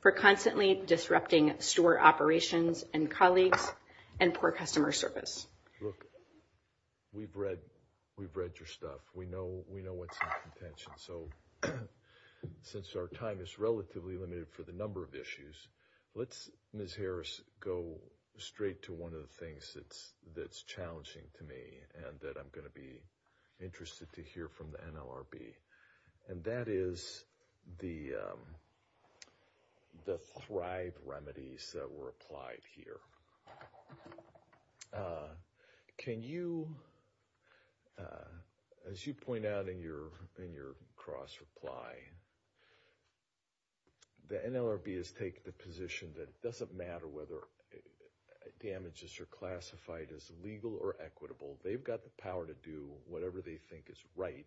for constantly disrupting store operations and colleagues and poor customer service. Look, we've read your stuff. We know what's in contention. So since our time is relatively limited for the number of issues, let's, Ms. Harris, go straight to one of the things that's challenging to me and that I'm gonna be interested to hear from the NLRB. And that is the thrive remedies that were applied here. Can you, as you point out in your cross-reply, the NLRB has taken the position that it doesn't matter whether damages are classified as legal or equitable. They've got the power to do whatever they think is right.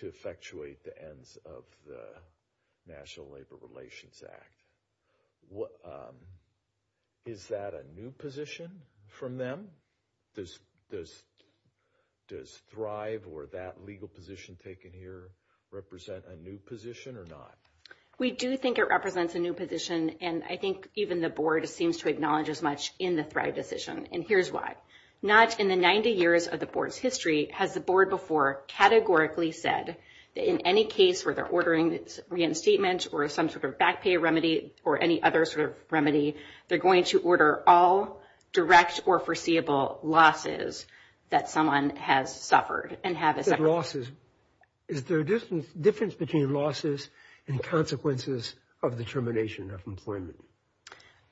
To effectuate the ends of the National Labor Relations Act. Is that a new position from them? Does thrive or that legal position taken here represent a new position or not? We do think it represents a new position. And I think even the board seems to acknowledge as much in the thrive decision. And here's why. Not in the 90 years of the board's history has the board before categorically said that in any case where they're ordering reinstatement or some sort of back pay remedy or any other sort of remedy, they're going to order all direct or foreseeable losses that someone has suffered and have a separate. Losses. Is there a difference between losses and consequences of the termination of employment?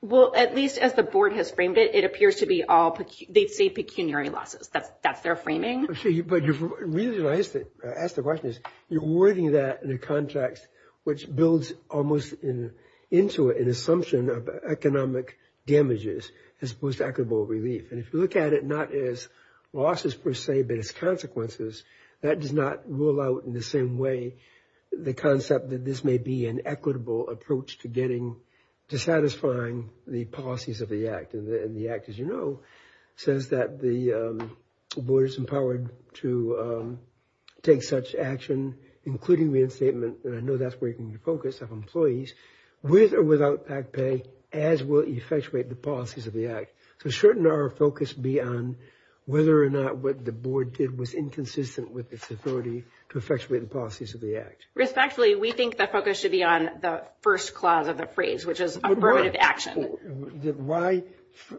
Well, at least as the board has framed it, it appears to be all, they'd say pecuniary losses. That's their framing. But the reason I ask the question is you're wording that in a context which builds almost into an assumption of economic damages as opposed to equitable relief. And if you look at it, not as losses per se, but as consequences, that does not rule out in the same way the concept that this may be an equitable approach to getting, to satisfying the policies of the act. And the act as you know, says that the board is empowered to take such action, including reinstatement. And I know that's where you can focus on employees with or without back pay, as will effectuate the policies of the act. So shouldn't our focus be on whether or not what the board did was inconsistent with its authority to effectuate the policies of the act? Respectfully, we think the focus should be on the first clause of the phrase, which is affirmative action. Why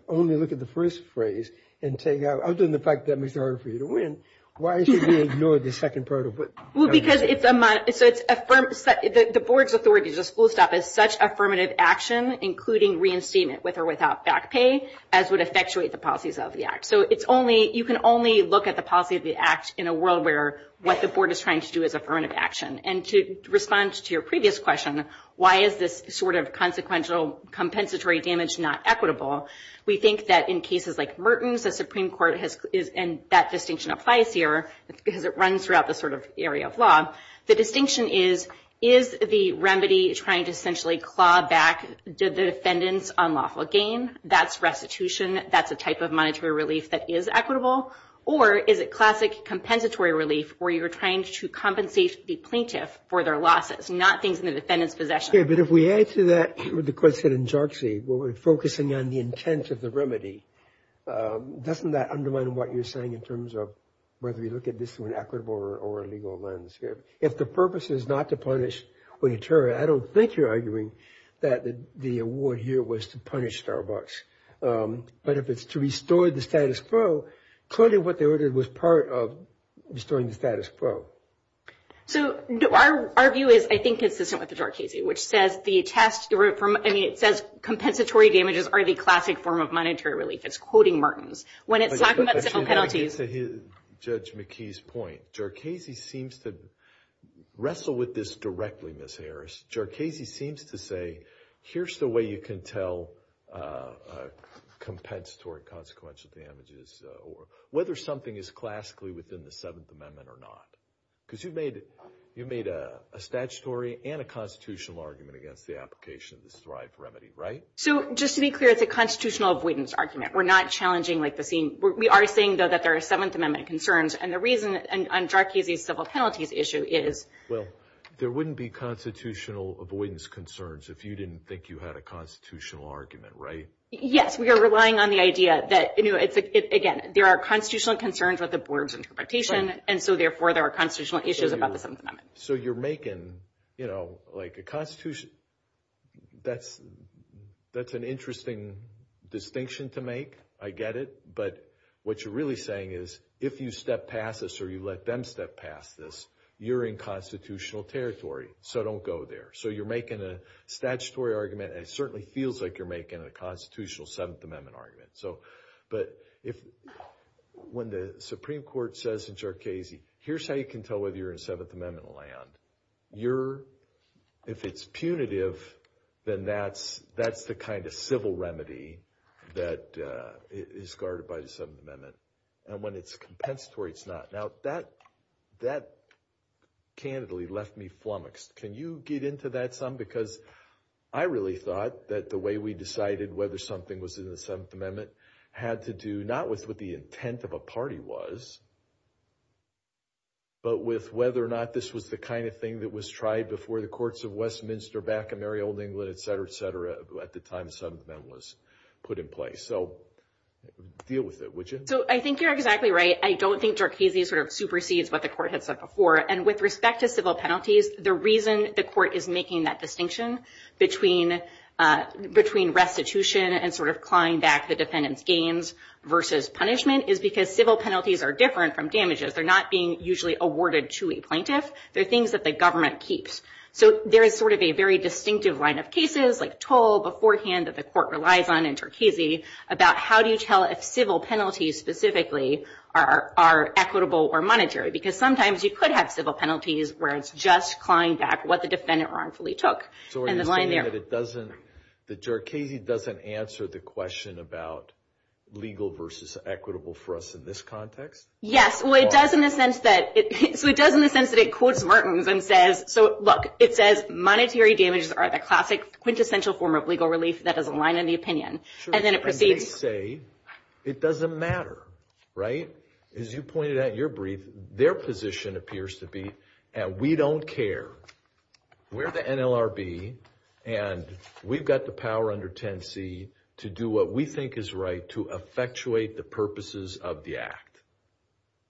only look at the first phrase and take out, other than the fact that it makes it harder for you to win, why should we ignore the second part of it? Well, because it's a, so it's affirmed, the board's authority is just full stop as such affirmative action, including reinstatement with or without back pay, as would effectuate the policies of the act. So it's only, you can only look at the policy of the act in a world where what the board is trying to do is affirmative action. And to respond to your previous question, why is this sort of consequential compensatory damage not equitable? We think that in cases like Merton's, the Supreme Court has, and that distinction applies here, because it runs throughout the sort of area of law. The distinction is, is the remedy trying to essentially claw back the defendant's unlawful gain, that's restitution, that's a type of monetary relief that is equitable, or is it classic compensatory relief where you're trying to compensate the plaintiff for their losses, not things in the defendant's possession. Yeah, but if we add to that what the court said in Jarczy, where we're focusing on the intent of the remedy, doesn't that undermine what you're saying in terms of whether we look at this through an equitable or a legal lens here? If the purpose is not to punish when you turn it, I don't think you're arguing that the award here was to punish Starbucks. But if it's to restore the status quo, clearly what they ordered was part of restoring the status quo. So our view is, I think, consistent with the Jarczy, which says the test, I mean, it says compensatory damages are the classic form of monetary relief. It's quoting Martins. When it's talking about penalties. Judge McKee's point, Jarczy seems to wrestle with this directly, Ms. Harris. Jarczy seems to say, here's the way you can tell compensatory consequential damages, whether something is classically within the Seventh Amendment or not. Because you've made a statutory and a constitutional argument against the application of this Thrive remedy, right? So just to be clear, it's a constitutional avoidance argument. We're not challenging the same, we are saying, though, that there are Seventh Amendment concerns. And the reason, on Jarczy's civil penalties issue is. Well, there wouldn't be constitutional avoidance concerns if you didn't think you had a constitutional argument, right? Yes, we are relying on the idea that, again, there are constitutional concerns with the board's interpretation, and so, therefore, there are constitutional issues about the Seventh Amendment. So you're making, you know, like a constitution, that's an interesting distinction to make, I get it. But what you're really saying is, if you step past this, or you let them step past this, you're in constitutional territory. So don't go there. So you're making a statutory argument, and it certainly feels like you're making a constitutional Seventh Amendment argument. But if, when the Supreme Court says in Jarczy, here's how you can tell whether you're in Seventh Amendment land. You're, if it's punitive, then that's the kind of civil remedy that is guarded by the Seventh Amendment. And when it's compensatory, it's not. Now, that, that, candidly, left me flummoxed. Can you get into that some? Because I really thought that the way we decided whether something was in the Seventh Amendment had to do not with what the intent of a party was, but with whether or not this was the kind of thing that was tried before the courts of Westminster, back in merry old England, et cetera, et cetera, at the time the Seventh Amendment was put in place. So deal with it, would you? So I think you're exactly right. I don't think Jarczy sort of supersedes what the court had said before. And with respect to civil penalties, the reason the court is making that distinction between restitution and sort of clawing back the defendant's gains versus punishment is because civil penalties are different from damages. They're not being usually awarded to a plaintiff. They're things that the government keeps. So there is sort of a very distinctive line of cases, like toll beforehand that the court relies on in Turkesey, about how do you tell if civil penalties specifically are equitable or monetary? Because sometimes you could have civil penalties where it's just clawing back what the defendant wrongfully took. And the line there. So are you saying that it doesn't, that Jarczy doesn't answer the question about legal versus equitable for us in this context? Yes, well it does in the sense that, so it does in the sense that it quotes Martins and says, so look, it says monetary damages are the classic quintessential form of legal relief that has a line in the opinion. And then it proceeds. And they say, it doesn't matter, right? As you pointed out in your brief, their position appears to be, and we don't care. We're the NLRB, and we've got the power under 10C to do what we think is right to effectuate the purposes of the act.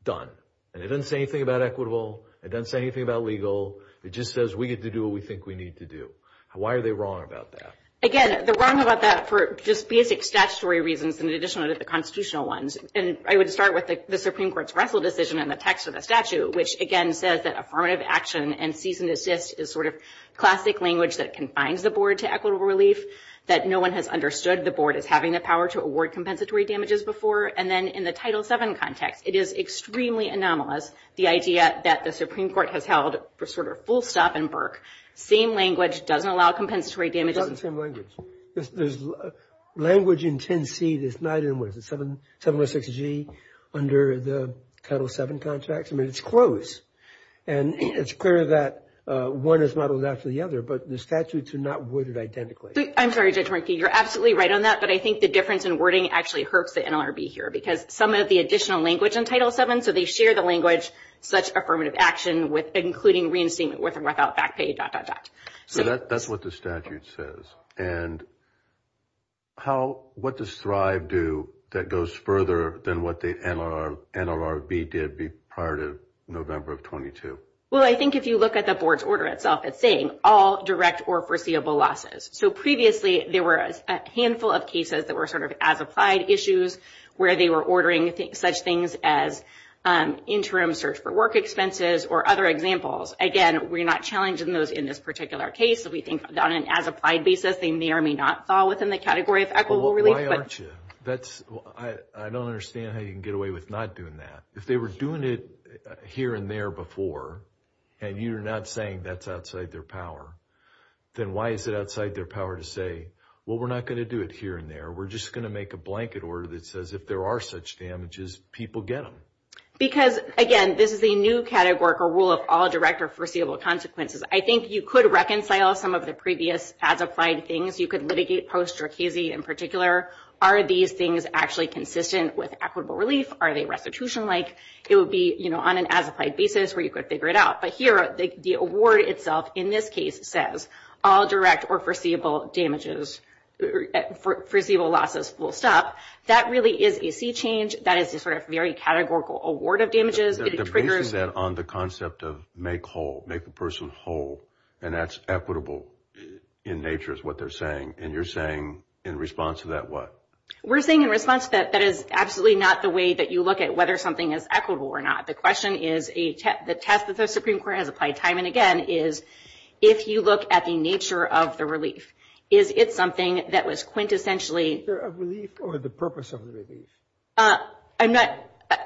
Done. And it doesn't say anything about equitable. It doesn't say anything about legal. It just says we get to do what we think we need to do. Why are they wrong about that? Again, they're wrong about that for just basic statutory reasons in addition to the constitutional ones. And I would start with the Supreme Court's Russell decision in the text of the statute, which again says that affirmative action and cease and desist is sort of classic language that confines the board to equitable relief, that no one has understood the board as having the power to award compensatory damages before. And then in the Title VII context, it is extremely anomalous, the idea that the Supreme Court has held for sort of full stop and berk. Same language, doesn't allow compensatory damages. It's not the same language. There's language in 10C that's not in, what is it, 706G under the Title VII contract? I mean, it's close. And it's clear that one is modeled after the other, but the statutes are not worded identically. I'm sorry, Judge Markey. You're absolutely right on that, but I think the difference in wording actually hurts the NLRB here because some of the additional language in Title VII, so they share the language, such affirmative action including reinstatement with and without back pay, dot, dot, dot. That's what the statute says. And what does Thrive do that goes further than what the NLRB did prior to November of 22? Well, I think if you look at the board's order itself, it's saying all direct or foreseeable losses. So previously, there were a handful of cases that were sort of as-applied issues where they were ordering such things as interim search for work expenses or other examples. Again, we're not challenging those in this particular case. We think that on an as-applied basis, they may or may not fall within the category of equitable relief. Why aren't you? That's, I don't understand how you can get away with not doing that. If they were doing it here and there before, and you're not saying that's outside their power, then why is it outside their power to say, well, we're not going to do it here and there. We're just going to make a blanket order that says if there are such damages, people get them. Because again, this is a new category or rule of all direct or foreseeable consequences. I think you could reconcile some of the previous as-applied things. You could litigate post-Jerkesy in particular. Are these things actually consistent with equitable relief? Are they restitution-like? It would be on an as-applied basis where you could figure it out. But here, the award itself in this case says all direct or foreseeable damages, foreseeable losses will stop. That really is a sea change. That is a sort of very categorical award of damages. It triggers- The basis on the concept of make whole, make a person whole, and that's equitable in nature is what they're saying. And you're saying, in response to that, what? We're saying in response to that, that is absolutely not the way that you look at whether something is equitable or not. The question is, the test that the Supreme Court has applied time and again is, if you look at the nature of the relief, is it something that was quintessentially- Is there a relief or the purpose of the relief? I'm not,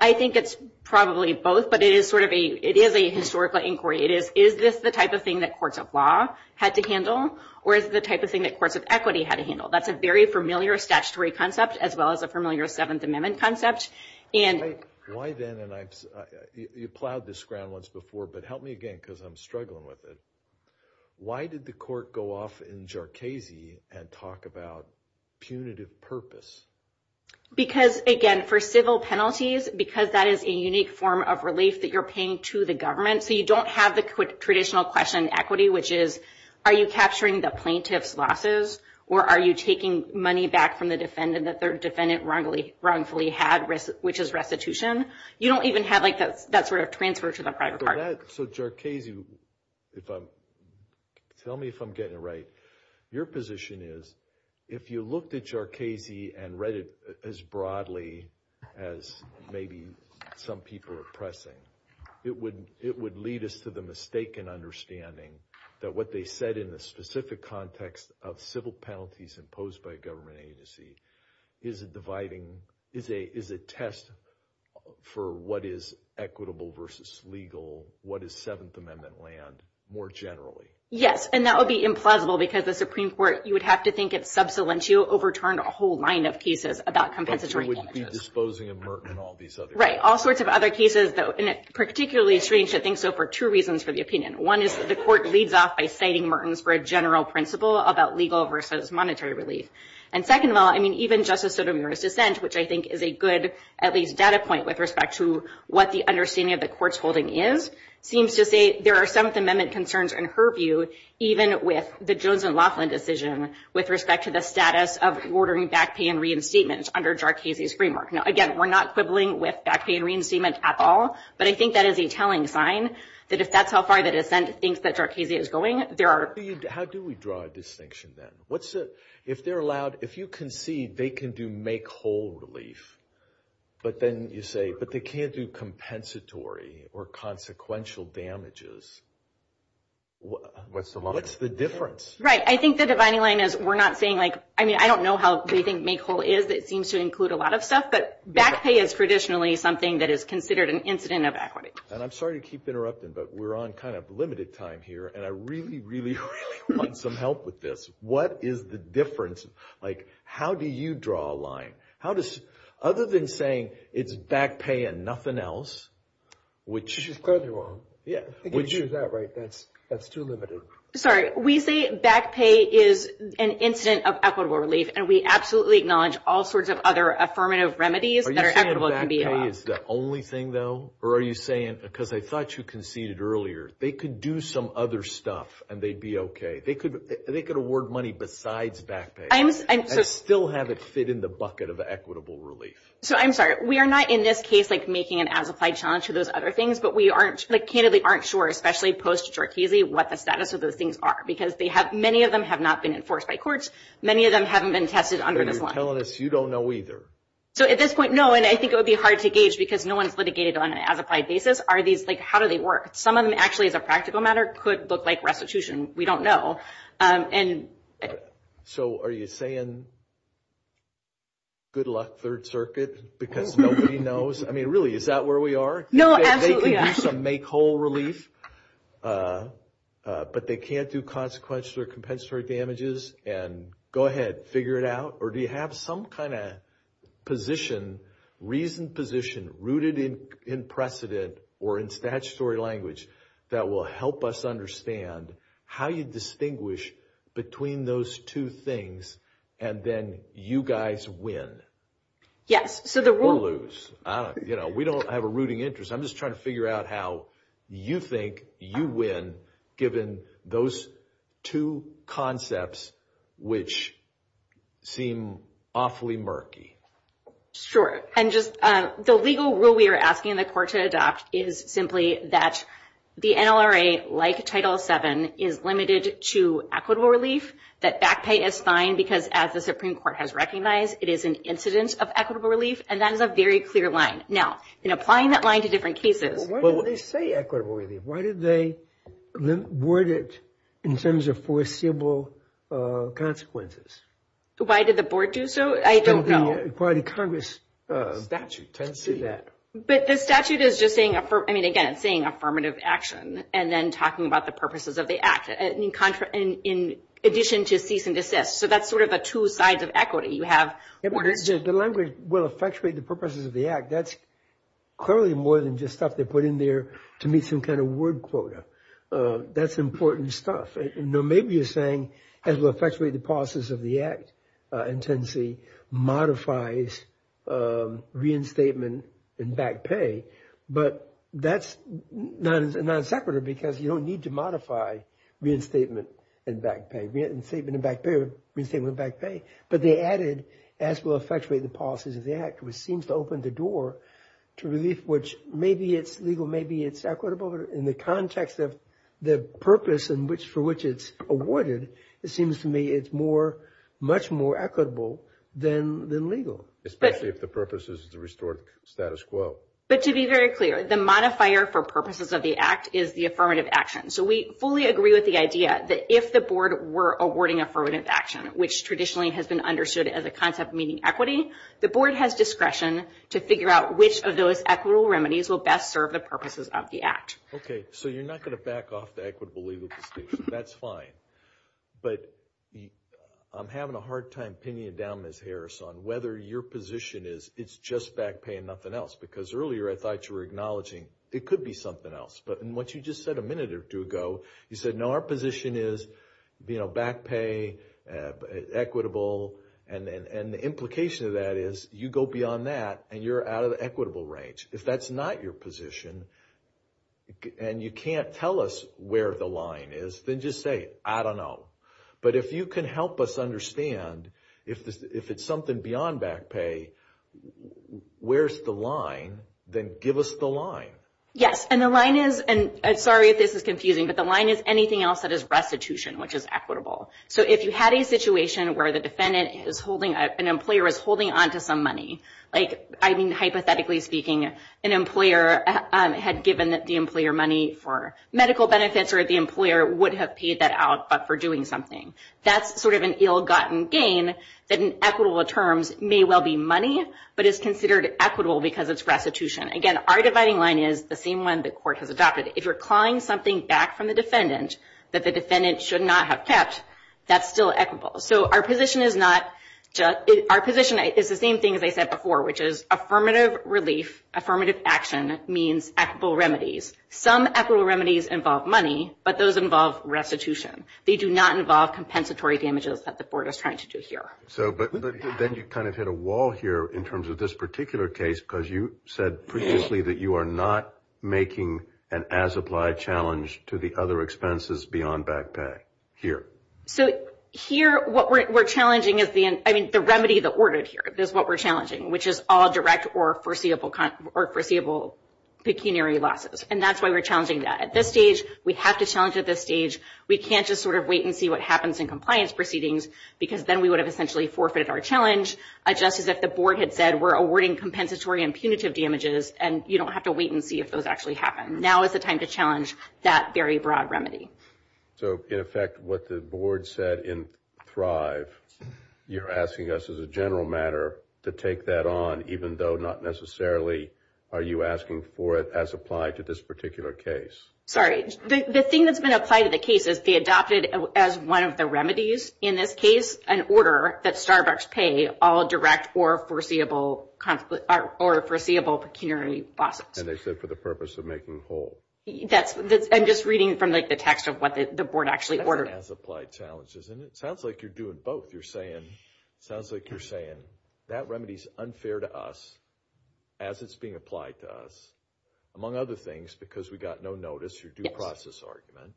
I think it's probably both, but it is sort of a, it is a historical inquiry. It is, is this the type of thing that courts of law had to handle or is it the type of thing that courts of equity had to handle? That's a very familiar statutory concept as well as a familiar Seventh Amendment concept. And- Why then, and you plowed this ground once before, but help me again, because I'm struggling with it. Why did the court go off in Jarchese and talk about punitive purpose? Because, again, for civil penalties, because that is a unique form of relief that you're paying to the government. So you don't have the traditional question in equity, which is, are you capturing the plaintiff's losses or are you taking money back from the defendant that the defendant wrongfully had, which is restitution? You don't even have that sort of transfer to the private party. So Jarchese, if I'm, tell me if I'm getting it right. Your position is, if you looked at Jarchese and read it as broadly as maybe some people are pressing, it would lead us to the mistaken understanding that what they said in the specific context of civil penalties imposed by a government agency is a dividing, is a test for what is equitable versus legal, what is Seventh Amendment land, more generally. Yes, and that would be implausible because the Supreme Court, you would have to think it's sub salientio, overturned a whole line of cases about compensatory damages. But you wouldn't be disposing of Merton and all these other cases. Right, all sorts of other cases, and it's particularly strange to think so for two reasons for the opinion. One is that the court leads off by citing Merton's for a general principle about legal versus monetary relief. And second of all, I mean, even Justice Sotomayor's dissent, which I think is a good, at least data point with respect to what the understanding of the court's holding is, seems to say there are Seventh Amendment concerns in her view, even with the Jones and Laughlin decision with respect to the status of ordering back pay and reinstatement under Jarchese's framework. Now, again, we're not quibbling with back pay and reinstatement at all, but I think that is a telling sign that if that's how far the dissent thinks that Jarchese is going, there are. How do we draw a distinction then? What's the, if they're allowed, if you concede they can do make whole relief, but then you say, but they can't do compensatory or consequential damages, what's the difference? Right, I think the dividing line is we're not saying like, I mean, I don't know how they think make whole is. It seems to include a lot of stuff, but back pay is traditionally something that is considered an incident of equity. And I'm sorry to keep interrupting, but we're on kind of limited time here. And I really, really, really want some help with this. What is the difference? Like, how do you draw a line? How does, other than saying it's back pay and nothing else, which is clearly wrong. Yeah. I think if you use that right, that's too limited. Sorry, we say back pay is an incident of equitable relief. And we absolutely acknowledge all sorts of other affirmative remedies that are equitable and can be allowed. Are you saying back pay is the only thing though? Or are you saying, because I thought you conceded earlier, they could do some other stuff and they'd be okay. They could award money besides back pay. And still have it fit in the bucket of equitable relief. So I'm sorry, we are not in this case, like making an as-applied challenge for those other things, but we aren't, like candidly aren't sure, especially post-Jorchese, what the status of those things are, because they have, many of them have not been enforced by courts. Many of them haven't been tested under this law. You're telling us you don't know either. So at this point, no. And I think it would be hard to gauge, because no one's litigated on an as-applied basis. Are these, like, how do they work? Some of them actually as a practical matter could look like restitution. We don't know. So are you saying, good luck Third Circuit? Because nobody knows. I mean, really, is that where we are? No, absolutely not. They could do some make-whole relief. But they can't do consequential or compensatory damages. And go ahead, figure it out. Or do you have some kind of position, reasoned position, rooted in precedent or in statutory language, that will help us understand how you distinguish between those two things and then you guys win? Yes, so the rule- We don't have a rooting interest. I'm just trying to figure out how you think you win, given those two concepts, which seem awfully murky. Sure, and just the legal rule we are asking the court to adopt is simply that the NLRA, like Title VII, is limited to equitable relief, that back pay is fine, because as the Supreme Court has recognized, it is an incident of equitable relief, and that is a very clear line. Now, in applying that line to different cases- Well, why do they say equitable relief? Why do they word it in terms of foreseeable consequences? Why did the board do so? I don't know. It's part of the Congress- Statute, tends to do that. But the statute is just saying, I mean, again, it's saying affirmative action and then talking about the purposes of the act, in addition to cease and desist. So that's sort of a two sides of equity. You have orders- The language will effectuate the purposes of the act. That's clearly more than just stuff they put in there to meet some kind of word quota. That's important stuff. Now, maybe you're saying, as will effectuate the purposes of the act, in tendency, modifies reinstatement and back pay, but that's not separative, because you don't need to modify reinstatement and back pay. Reinstatement and back pay, reinstatement and back pay. But they added, as will effectuate the purposes of the act, which seems to open the door to relief, which maybe it's legal, maybe it's equitable. In the context of the purpose for which it's awarded, it seems to me it's much more equitable than legal. Especially if the purpose is to restore status quo. But to be very clear, the modifier for purposes of the act is the affirmative action. So we fully agree with the idea that if the board were awarding affirmative action, which traditionally has been understood as a concept meaning equity, the board has discretion to figure out which of those equitable remedies will best serve the purposes of the act. Okay, so you're not going to back off the equitable legal distinction, that's fine. But I'm having a hard time pinning it down, Ms. Harris, on whether your position is it's just back pay and nothing else. Because earlier I thought you were acknowledging it could be something else. But in what you just said a minute or two ago, you said no, our position is back pay, equitable, and the implication of that is you go beyond that and you're out of the equitable range. If that's not your position and you can't tell us where the line is, then just say, I don't know. But if you can help us understand, if it's something beyond back pay, where's the line, then give us the line. Yes, and the line is, and sorry if this is confusing, but the line is anything else that is restitution, which is equitable. So if you had a situation where the defendant is holding, an employer is holding onto some money, like, I mean, hypothetically speaking, an employer had given the employer money for medical benefits, or the employer would have paid that out but for doing something. That's sort of an ill-gotten gain that in equitable terms may well be money, but it's considered equitable because it's restitution. Again, our dividing line is the same one the court has adopted. If you're clawing something back from the defendant that the defendant should not have kept, that's still equitable. So our position is not, our position is the same thing as I said before, which is affirmative relief, affirmative action means equitable remedies. Some equitable remedies involve money, but those involve restitution. They do not involve compensatory damages that the court is trying to do here. So, but then you kind of hit a wall here in terms of this particular case, because you said previously that you are not making an as-applied challenge to the other expenses beyond back pay here. So here, what we're challenging is the, I mean, the remedy that ordered here is what we're challenging, which is all direct or foreseeable pecuniary losses. And that's why we're challenging that. At this stage, we have to challenge at this stage. We can't just sort of wait and see what happens in compliance proceedings, because then we would have essentially forfeited our challenge, just as if the board had said, we're awarding compensatory and punitive damages and you don't have to wait and see if those actually happen. Now is the time to challenge that very broad remedy. So in effect, what the board said in Thrive, you're asking us as a general matter to take that on, even though not necessarily are you asking for it as applied to this particular case? Sorry, the thing that's been applied to the case is they adopted as one of the remedies in this case, an order that Starbucks pay all direct or foreseeable pecuniary losses. And they said for the purpose of making whole. I'm just reading from the text of what the board actually ordered. That's an as applied challenge, isn't it? Sounds like you're doing both. You're saying, sounds like you're saying that remedy's unfair to us, as it's being applied to us, among other things, because we got no notice, your due process argument,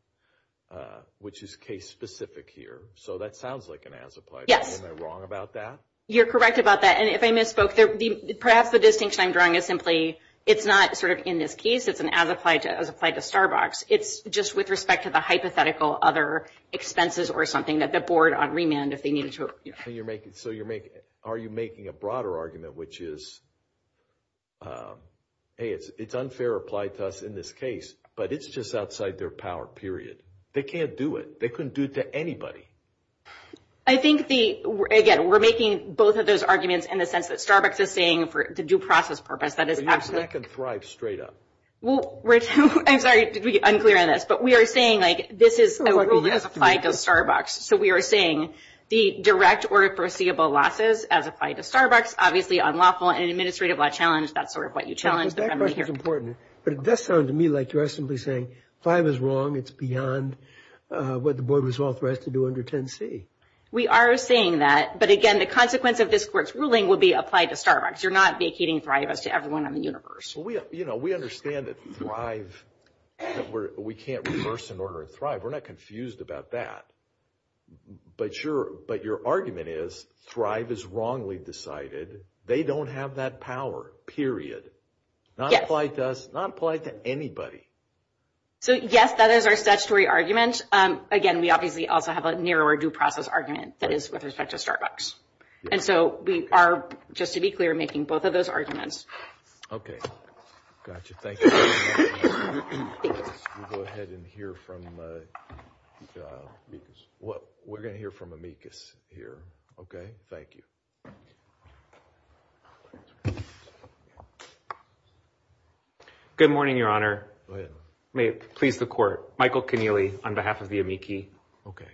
which is case specific here. So that sounds like an as applied. Yes. Am I wrong about that? You're correct about that. And if I misspoke, perhaps the distinction I'm drawing is simply, it's not sort of in this case, it's an as applied to Starbucks. It's just with respect to the hypothetical other expenses or something that the board on remand, if they needed to. So you're making, are you making a broader argument, which is, hey, it's unfair applied to us in this case, but it's just outside their power, period. They can't do it. They couldn't do it to anybody. I think the, again, we're making both of those arguments in the sense that Starbucks is saying for the due process purpose, that is absolutely. That could thrive straight up. Well, Rich, I'm sorry, did we get unclear on this, but we are saying like, this is a ruling as applied to Starbucks. So we are saying, the direct or foreseeable losses as applied to Starbucks, obviously unlawful and administrative challenge. That's sort of what you challenged here. But it does sound to me like you're simply saying, five is wrong. It's beyond what the board was authorized to do under 10C. We are saying that, but again, the consequence of this court's ruling will be applied to Starbucks. You're not vacating Thrive as to everyone in the universe. Well, we understand that Thrive, we can't reverse an order in Thrive. We're not confused about that. But your argument is, Thrive is wrongly decided. They don't have that power, period. Not applied to us, not applied to anybody. So yes, that is our statutory argument. Again, we obviously also have a narrower due process argument that is with respect to Starbucks. And so we are, just to be clear, we're making both of those arguments. Okay, gotcha. Thank you. We'll go ahead and hear from, we're gonna hear from Amicus here. Okay, thank you. Good morning, Your Honor. Go ahead. May it please the court. Michael Connealy on behalf of the amici. Okay.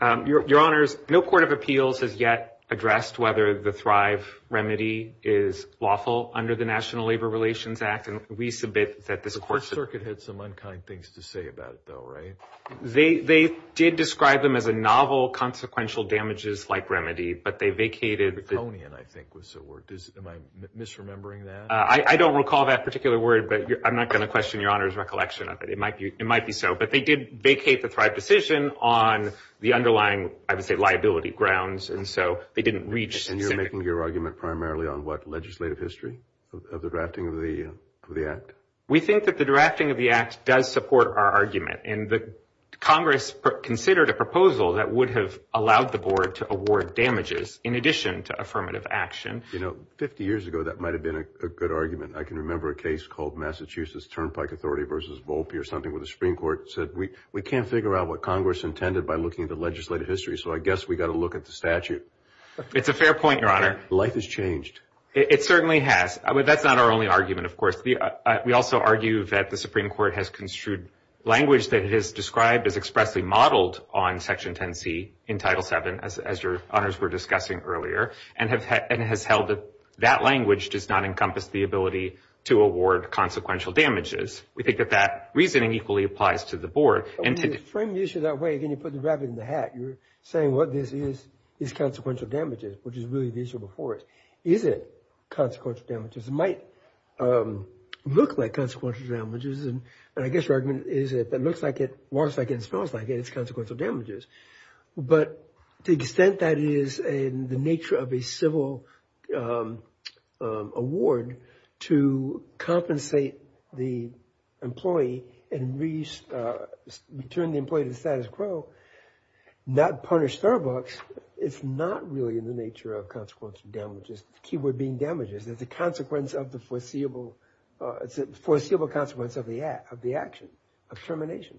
Your Honors, no court of appeals has yet addressed whether the Thrive remedy is lawful under the National Labor Relations Act. And we submit that this court should. The court circuit had some unkind things to say about it though, right? They did describe them as a novel, consequential damages like remedy, but they vacated. Theconian, I think was the word. Am I misremembering that? I don't recall that particular word, but I'm not gonna question Your Honor's recollection of it. It might be so. But they did vacate the Thrive decision on the underlying, I would say, liability grounds. And so, they didn't reach. And you're making your argument primarily on what, legislative history of the drafting of the act? We think that the drafting of the act does support our argument. And Congress considered a proposal that would have allowed the board to award damages in addition to affirmative action. You know, 50 years ago, that might have been a good argument. I can remember a case called Massachusetts Turnpike Authority versus Volpe or something where the Supreme Court said, we can't figure out what Congress intended by looking at the legislative history. So, I guess we gotta look at the statute. It's a fair point, Your Honor. Life has changed. It certainly has. That's not our only argument, of course. We also argue that the Supreme Court has construed language that it has described as expressly modeled on Section 10C in Title VII, as Your Honors were discussing earlier, and has held that that language does not encompass the ability to award consequential damages. We think that that reasoning equally applies to the board. And to frame the issue that way, again, you put the rabbit in the hat. You're saying what this is, is consequential damages, which is really the issue before us. Is it consequential damages? It might look like consequential damages, and I guess your argument is that if it looks like it, walks like it, and smells like it, it's consequential damages. But to the extent that it is in the nature of a civil award to compensate the employee and return the employee to the status quo, not punish Starbucks, it's not really in the nature of consequential damages, the key word being damages. It's a foreseeable consequence of the action, of termination.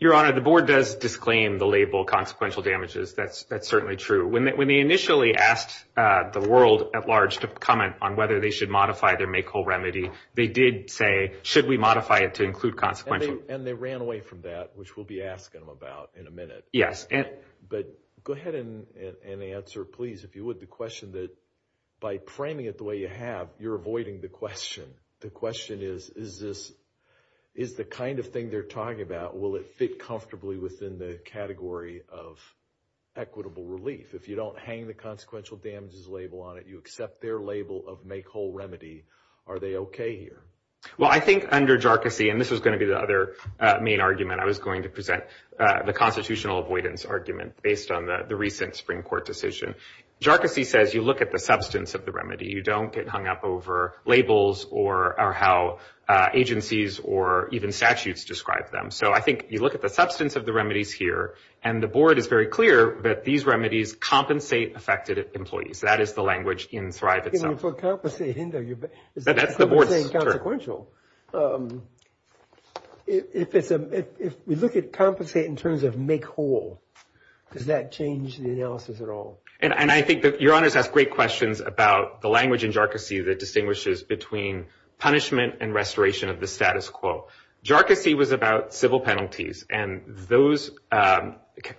Your Honor, the board does disclaim the label consequential damages. That's certainly true. When they initially asked the world at large to comment on whether they should modify their make whole remedy, they did say, should we modify it to include consequential? And they ran away from that, which we'll be asking them about in a minute. But go ahead and answer, please, if you would, the question that by framing it the way you have, you're avoiding the question. The question is, is the kind of thing they're talking about, will it fit comfortably within the category of equitable relief? If you don't hang the consequential damages label on it, you accept their label of make whole remedy, are they okay here? Well, I think under jarcossy, and this was gonna be the other main argument I was going to present, the constitutional avoidance argument based on the recent Supreme Court decision. Jarcossy says, you look at the substance of the remedy. You don't get hung up over labels or how agencies or even statutes describe them. So I think you look at the substance of the remedies here, and the board is very clear that these remedies compensate affected employees. That is the language in Thrive itself. For compensate hinder, you're saying consequential. If we look at compensate in terms of make whole, does that change the analysis at all? And I think that your honors has great questions about the language in jarcossy that distinguishes between punishment and restoration of the status quo. Jarcossy was about civil penalties, and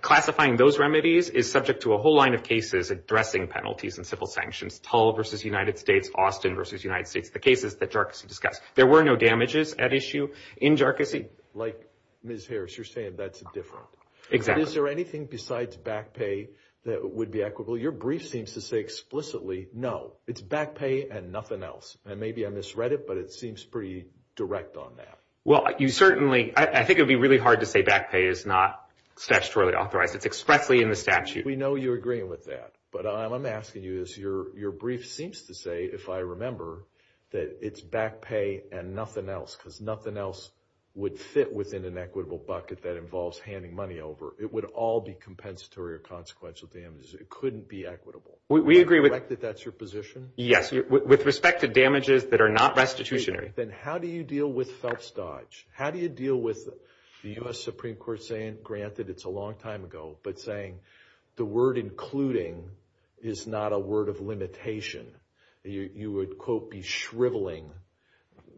classifying those remedies is subject to a whole line of cases addressing penalties and civil sanctions. Tull versus United States, Austin versus United States, the cases that jarcossy discussed. There were a lot of cases that were addressed and there were no damages at issue in jarcossy. Like Ms. Harris, you're saying that's different. Exactly. Is there anything besides back pay that would be equitable? Your brief seems to say explicitly, no. It's back pay and nothing else. And maybe I misread it, but it seems pretty direct on that. Well, you certainly, I think it'd be really hard to say back pay is not statutorily authorized. It's expressly in the statute. We know you're agreeing with that, but I'm asking you this. Your brief seems to say, if I remember, that it's back pay and nothing else, because nothing else would fit within an equitable bucket that involves handing money over. It would all be compensatory or consequential damages. It couldn't be equitable. We agree with that. Do you reflect that that's your position? Yes, with respect to damages that are not restitutionary. Then how do you deal with felt stodge? How do you deal with the US Supreme Court saying, granted it's a long time ago, but saying the word including is not a word of limitation. You would, quote, be shriveling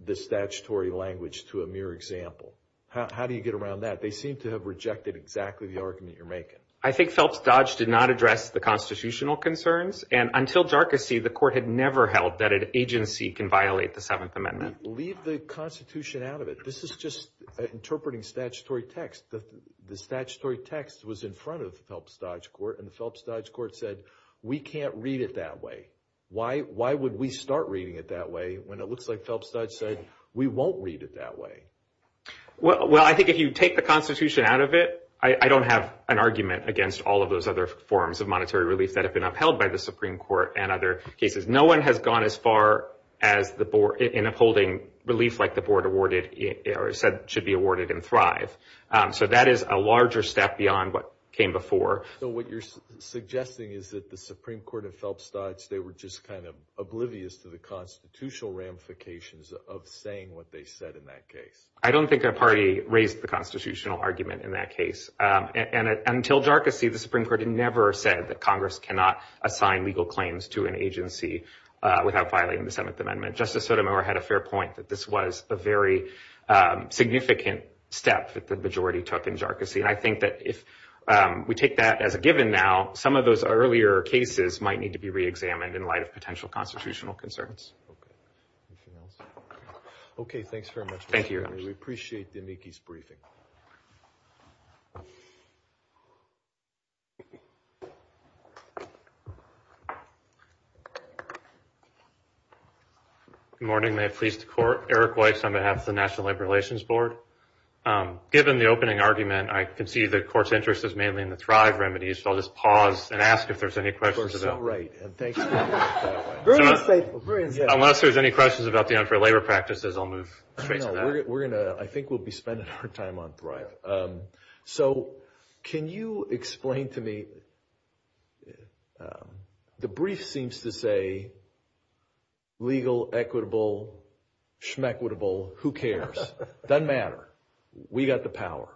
the statutory language to a mere example. How do you get around that? They seem to have rejected exactly the argument you're making. I think felt stodge did not address the constitutional concerns. And until jarcossy, the court had never held that an agency can violate the Seventh Amendment. Leave the Constitution out of it. This is just interpreting statutory text. The statutory text was in front of felt stodge court, and felt stodge court said, we can't read it that way. Why would we start reading it that way when it looks like felt stodge said, we won't read it that way? Well, I think if you take the Constitution out of it, I don't have an argument against all of those other forms of monetary relief that have been upheld by the Supreme Court and other cases. No one has gone as far in upholding relief like the board said should be awarded in Thrive. So that is a larger step beyond what came before. So what you're suggesting is that the Supreme Court and felt stodge, they were just kind of oblivious to the constitutional ramifications of saying what they said in that case. I don't think a party raised the constitutional argument in that case. And until jarcossy, the Supreme Court had never said that Congress cannot assign legal claims to an agency without violating the Seventh Amendment. Justice Sotomayor had a fair point that this was a very significant step that the majority took in jarcossy. And I think that if we take that as a given now, some of those earlier cases might need to be re-examined in light of potential constitutional concerns. Okay, thanks very much. Thank you. We appreciate the amicus briefing. Morning, may it please the court. Eric Weiss on behalf of the National Labor Relations Board. Given the opening argument, I can see the court's interest is mainly in the Thrive remedies. So I'll just pause and ask if there's any questions. Of course, so right. And thanks for that. Very insightful, very insightful. Unless there's any questions about the unfair labor practices, I'll move straight to that. I think we'll be spending our time on Thrive. So can you explain to me, the brief seems to say legal, equitable, schmequitable, who cares? Doesn't matter. We got the power.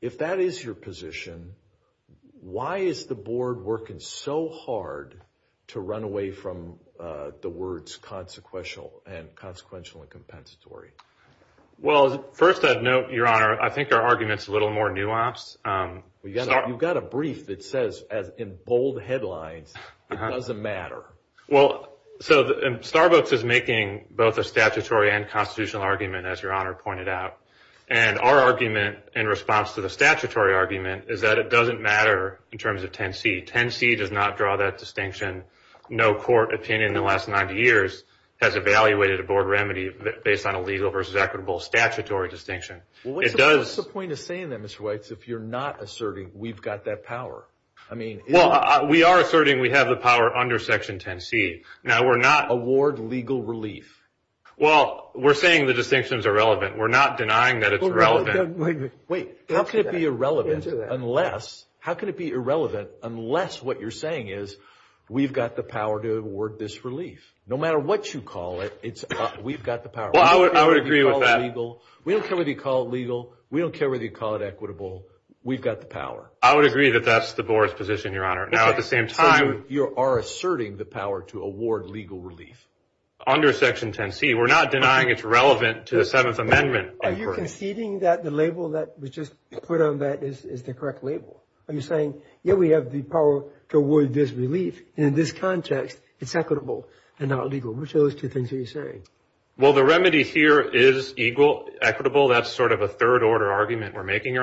If that is your position, why is the board working so hard to run away from the words consequential and consequential and compensatory? Well, first I'd note, Your Honor, I think our argument's a little more nuanced. You've got a brief that says, in bold headlines, it doesn't matter. Well, so Starbucks is making both a statutory and constitutional argument, as Your Honor pointed out. And our argument, in response to the statutory argument, is that it doesn't matter in terms of 10C. 10C does not draw that distinction. No court opinion in the last 90 years has evaluated a board remedy based on a legal versus equitable statutory distinction. Well, what's the point of saying that, Mr. Weitz, if you're not asserting we've got that power? Well, we are asserting we have the power under Section 10C. Now, we're not- Award legal relief. Well, we're saying the distinctions are relevant. We're not denying that it's relevant. Wait, how can it be irrelevant unless, how can it be irrelevant unless what you're saying is, we've got the power to award this relief? No matter what you call it, we've got the power. Well, I would agree with that. We don't care whether you call it legal. We don't care whether you call it equitable. We've got the power. I would agree that that's the board's position, Your Honor. Now, at the same time- So you are asserting the power to award legal relief? Under Section 10C. We're not denying it's relevant to the Seventh Amendment. Are you conceding that the label that was just put on that is the correct label? Are you saying, yeah, we have the power to award this relief, and in this context, it's equitable and not legal? Which of those two things are you saying? Well, the remedy here is equal, equitable. That's sort of a third-order argument we're making,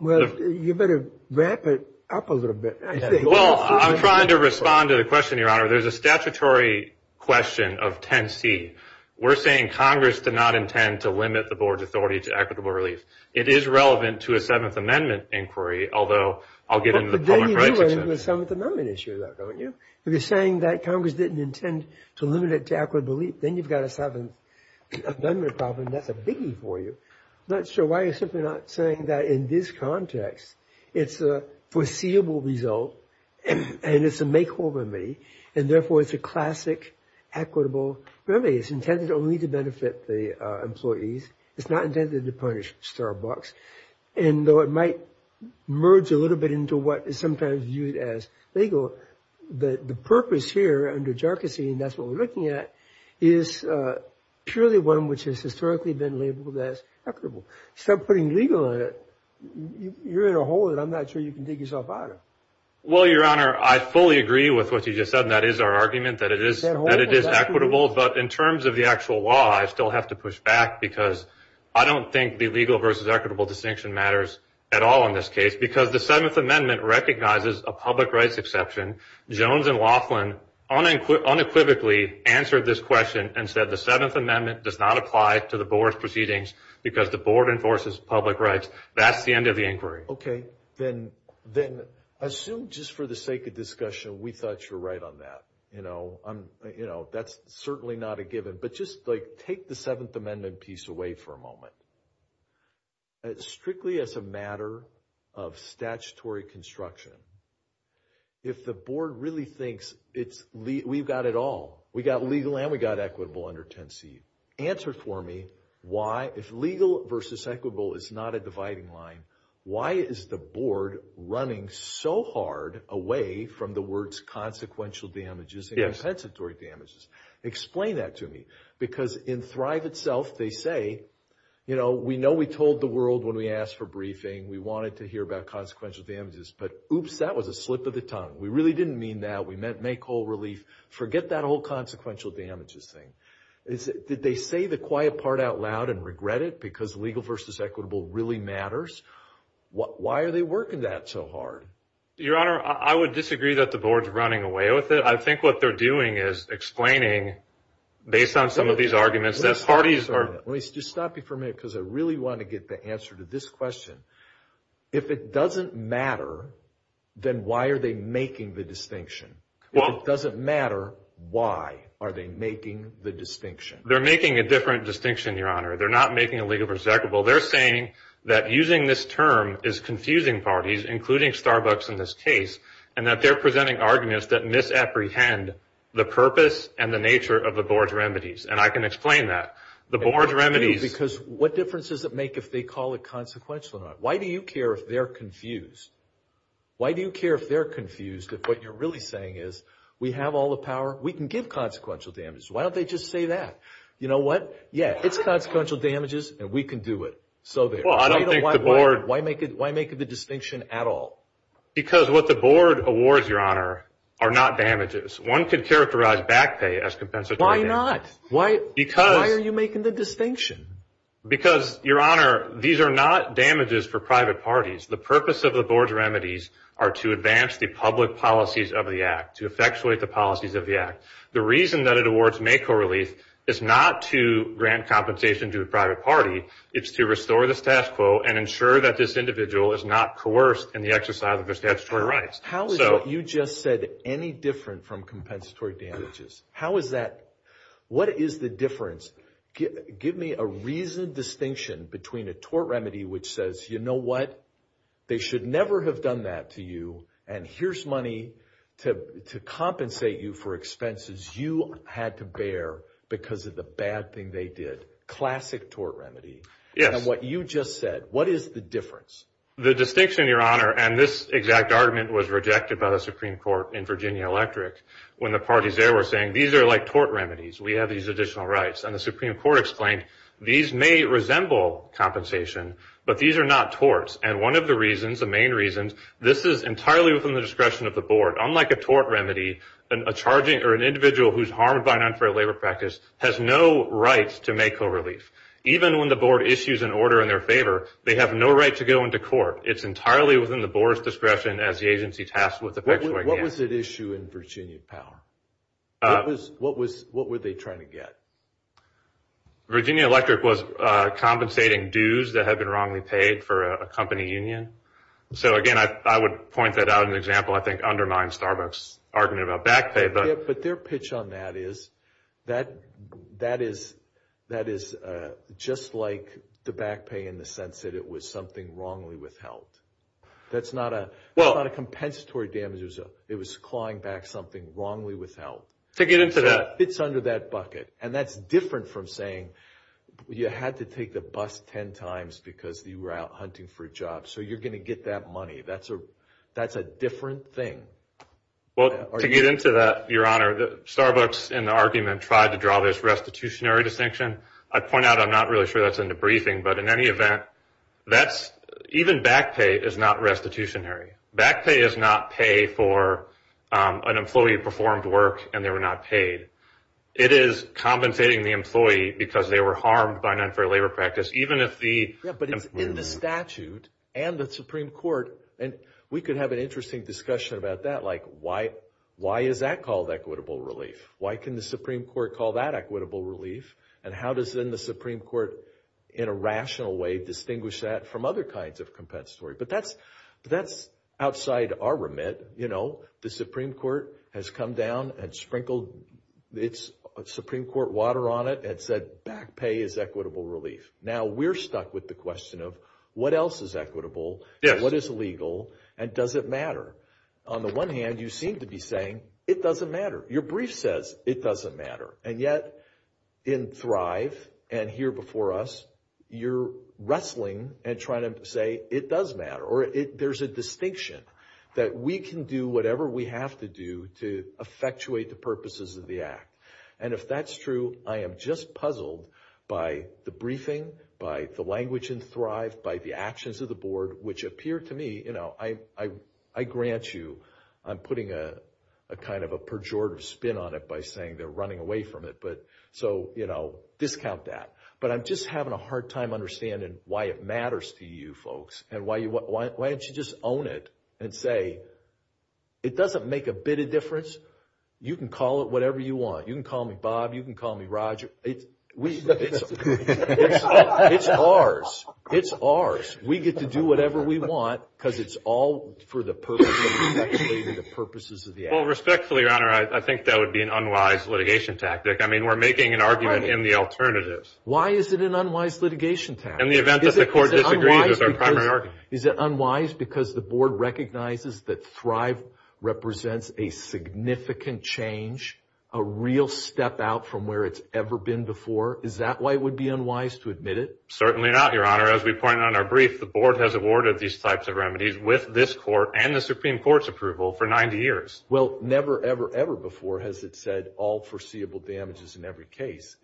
Well, you better wrap it up a little bit, I think. Well, I'm trying to respond to the question, Your Honor. There's a statutory question of 10C. We're saying Congress did not intend to limit the board's authority to equitable relief. It is relevant to a Seventh Amendment inquiry, although I'll get into the public rights- But then you do end up with a Seventh Amendment issue, though, don't you? If you're saying that Congress didn't intend to limit it to equitable relief, then you've got a Seventh Amendment problem, and that's a biggie for you. I'm not sure why you're simply not saying that in this context, it's a foreseeable result, and it's a make-or-break remedy, and therefore, it's a classic equitable remedy. It's intended only to benefit the employees. It's not intended to punish Starbucks, and though it might merge a little bit into what is sometimes viewed as legal, the purpose here under jarkusy, and that's what we're looking at, is purely one which has historically been labeled as equitable. Stop putting legal on it. You're in a hole that I'm not sure you can dig yourself out of. Well, Your Honor, I fully agree with what you just said, and that is our argument, that it is equitable, but in terms of the actual law, I still have to push back, because I don't think the legal versus equitable distinction matters at all in this case, because the Seventh Amendment recognizes a public rights exception. Jones and Laughlin unequivocally answered this question and said the Seventh Amendment does not apply to the board's proceedings, because the board enforces public rights. That's the end of the inquiry. Okay, then assume, just for the sake of discussion, we thought you were right on that. That's certainly not a given, but just take the Seventh Amendment piece away for a moment. Strictly as a matter of statutory construction, if the board really thinks we've got it all, we got legal and we got equitable under 10C, answer for me why, if legal versus equitable is not a dividing line, why is the board running so hard away from the words consequential damages and compensatory damages? Explain that to me, because in Thrive itself, they say, we know we told the world when we asked for briefing, we wanted to hear about consequential damages, but oops, that was a slip of the tongue. We really didn't mean that. We meant make whole relief. Forget that whole consequential damages thing. Did they say the quiet part out loud and regret it, because legal versus equitable really matters? Why are they working that so hard? Your Honor, I would disagree that the board's running away with it. I think what they're doing is explaining, based on some of these arguments, that parties are- Let me just stop you for a minute, because I really want to get the answer to this question. If it doesn't matter, then why are they making the distinction? If it doesn't matter, why are they making the distinction? They're making a different distinction, Your Honor. They're not making a legal versus equitable. They're saying that using this term is confusing parties, including Starbucks in this case, and that they're presenting arguments that misapprehend the purpose and the nature of the board's remedies, and I can explain that. The board's remedies- Because what difference does it make if they call it consequential or not? Why do you care if they're confused? Why do you care if they're confused if what you're really saying is we have all the power, we can give consequential damages? Why don't they just say that? You know what? Yeah, it's consequential damages, and we can do it. So there. Why make the distinction at all? Because what the board awards, Your Honor, are not damages. One could characterize back pay as compensatory damages. Why not? Why are you making the distinction? Because, Your Honor, these are not damages for private parties. The purpose of the board's remedies are to advance the public policies of the act, to effectuate the policies of the act. The reason that it awards MACO relief is not to grant compensation to the private party. It's to restore the status quo and ensure that this individual is not coerced in the exercise of their statutory rights. How is what you just said any different from compensatory damages? How is that? What is the difference? Give me a reasoned distinction between a tort remedy which says, you know what? They should never have done that to you, and here's money to compensate you for expenses you had to bear because of the bad thing they did. Classic tort remedy. Yes. And what you just said, what is the difference? The distinction, Your Honor, and this exact argument was rejected by the Supreme Court in Virginia Electric when the parties there were saying, these are like tort remedies. We have these additional rights. And the Supreme Court explained, these may resemble compensation, but these are not torts. And one of the reasons, the main reasons, this is entirely within the discretion of the board. Unlike a tort remedy, a charging or an individual who's harmed by an unfair labor practice has no rights to make co-relief. Even when the board issues an order in their favor, they have no right to go into court. It's entirely within the board's discretion as the agency tasked with effectuating the act. What was at issue in Virginia Power? What were they trying to get? Virginia Electric was compensating dues that had been wrongly paid for a company union. So again, I would point that out as an example, I think undermines Starbuck's argument about back pay. But their pitch on that is, that is just like the back pay in the sense that it was something wrongly withheld. That's not a compensatory damage. It was clawing back something wrongly withheld. To get into that. It's under that bucket. And that's different from saying, you had to take the bus 10 times because you were out hunting for a job. So you're gonna get that money. That's a different thing. Well, to get into that, your honor, Starbucks in the argument tried to draw this restitutionary distinction. I'd point out, I'm not really sure that's in the briefing, but in any event, even back pay is not restitutionary. Back pay is not pay for an employee who performed work and they were not paid. It is compensating the employee because they were harmed by an unfair labor practice, even if the- Yeah, but it's in the statute and the Supreme Court. And we could have an interesting discussion about that. Like, why is that called equitable relief? Why can the Supreme Court call that equitable relief? And how does then the Supreme Court, in a rational way, distinguish that from other kinds of compensatory? But that's outside our remit. The Supreme Court has come down and sprinkled its Supreme Court water on it and said, back pay is equitable relief. Now, we're stuck with the question of, what else is equitable and what is legal and does it matter? On the one hand, you seem to be saying, it doesn't matter. Your brief says, it doesn't matter. And yet, in Thrive and here before us, you're wrestling and trying to say, it does matter. Or there's a distinction that we can do whatever we have to do to effectuate the purposes of the act. And if that's true, I am just puzzled by the briefing, by the language in Thrive, by the actions of the board, which appear to me, I grant you, I'm putting a kind of a pejorative spin on it by saying they're running away from it. So, discount that. But I'm just having a hard time understanding why it matters to you folks and why don't you just own it and say, it doesn't make a bit of difference. You can call it whatever you want. You can call me Bob. You can call me Roger. It's ours. It's ours. We get to do whatever we want because it's all for the purposes of the act. Well, respectfully, your honor, I think that would be an unwise litigation tactic. I mean, we're making an argument in the alternatives. Why is it an unwise litigation tactic? In the event that the court disagrees with our primary argument. Is it unwise because the board recognizes that Thrive represents a significant change, a real step out from where it's ever been before? Is that why it would be unwise to admit it? Certainly not, your honor. As we pointed on our brief, the board has awarded these types of remedies with this court and the Supreme Court's approval for 90 years. Well, never, ever, ever before has it said all foreseeable damages in every case.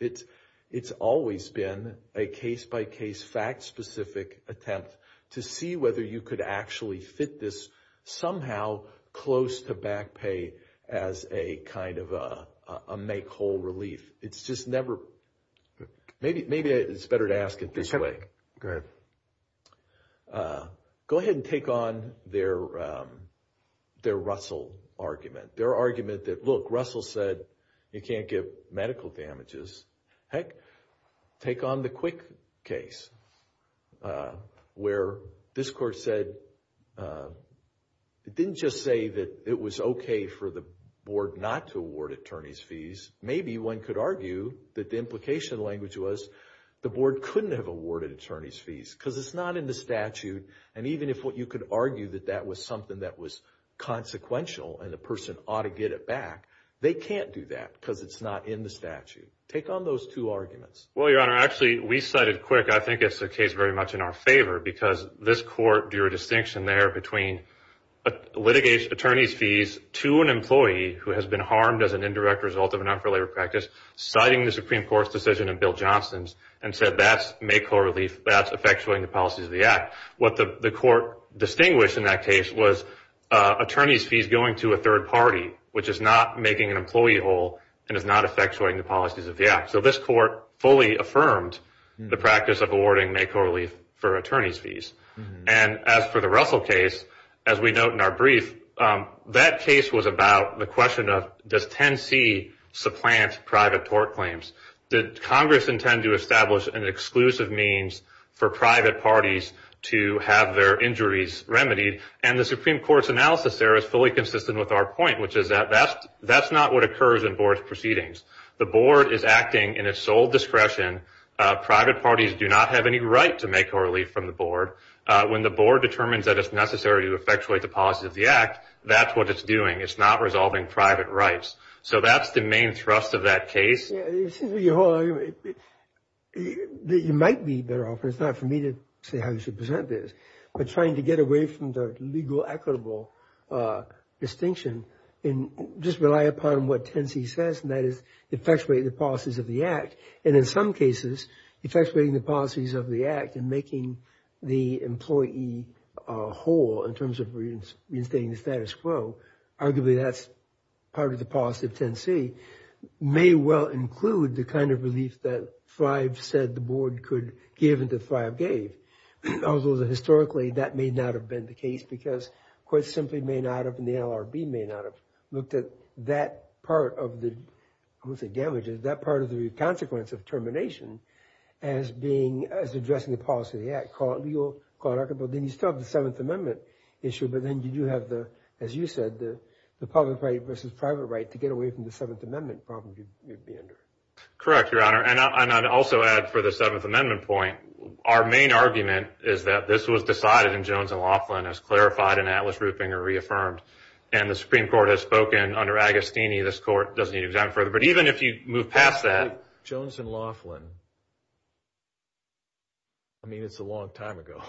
It's always been a case-by-case, fact-specific attempt to see whether you could actually fit this somehow close to back pay as a kind of a make-whole relief. It's just never, maybe it's better to ask it this way. Go ahead and take on their Russell argument. Their argument that, look, Russell said you can't give medical damages. Heck, take on the Quick case where this court said, it didn't just say that it was okay for the board not to award attorney's fees. Maybe one could argue that the implication language was the board couldn't have awarded attorney's fees because it's not in the statute. And even if what you could argue that that was something that was consequential and the person ought to get it back, they can't do that because it's not in the statute. Take on those two arguments. Well, your honor, actually, we cited Quick, I think it's a case very much in our favor because this court drew a distinction there between litigation attorney's fees to an employee who has been harmed as an indirect result of an unfair labor practice, citing the Supreme Court's decision in Bill Johnson's and said that's make-whole relief, that's effectuating the policies of the act. What the court distinguished in that case was attorney's fees going to a third party, which is not making an employee whole and is not effectuating the policies of the act. So this court fully affirmed the practice of awarding make-whole relief for attorney's fees. And as for the Russell case, as we note in our brief, that case was about the question of does 10C supplant private tort claims? Did Congress intend to establish an exclusive means for private parties to have their injuries remedied? And the Supreme Court's analysis there is fully consistent with our point, which is that that's not what occurs in board proceedings. The board is acting in its sole discretion. Private parties do not have any right to make-whole relief from the board. When the board determines that it's necessary to effectuate the policies of the act, that's what it's doing. It's not resolving private rights. So that's the main thrust of that case. Yeah, it seems to me, you might be better off, and it's not for me to say how you should present this, but trying to get away from the legal equitable distinction and just rely upon what 10C says, and that is effectuating the policies of the act. And in some cases, effectuating the policies of the act and making the employee whole in terms of reinstating the status quo, arguably that's part of the policy of 10C, may well include the kind of relief that Thrive said the board could give and that Thrive gave. Although historically, that may not have been the case because courts simply may not have, and the LRB may not have looked at that part of the, I won't say damages, that part of the consequence of termination as addressing the policy of the act, call it legal, call it equitable, then you still have the Seventh Amendment issue, but then you do have the, as you said, the public right versus private right to get away from the Seventh Amendment problems you'd be under. Correct, Your Honor, and I'd also add for the Seventh Amendment point, our main argument is that this was decided in Jones and Laughlin, as clarified in Atlas, Rupinger, reaffirmed, and the Supreme Court has spoken under Agostini, this court doesn't need to examine further, but even if you move past that. Jones and Laughlin, I mean, it's a long time ago.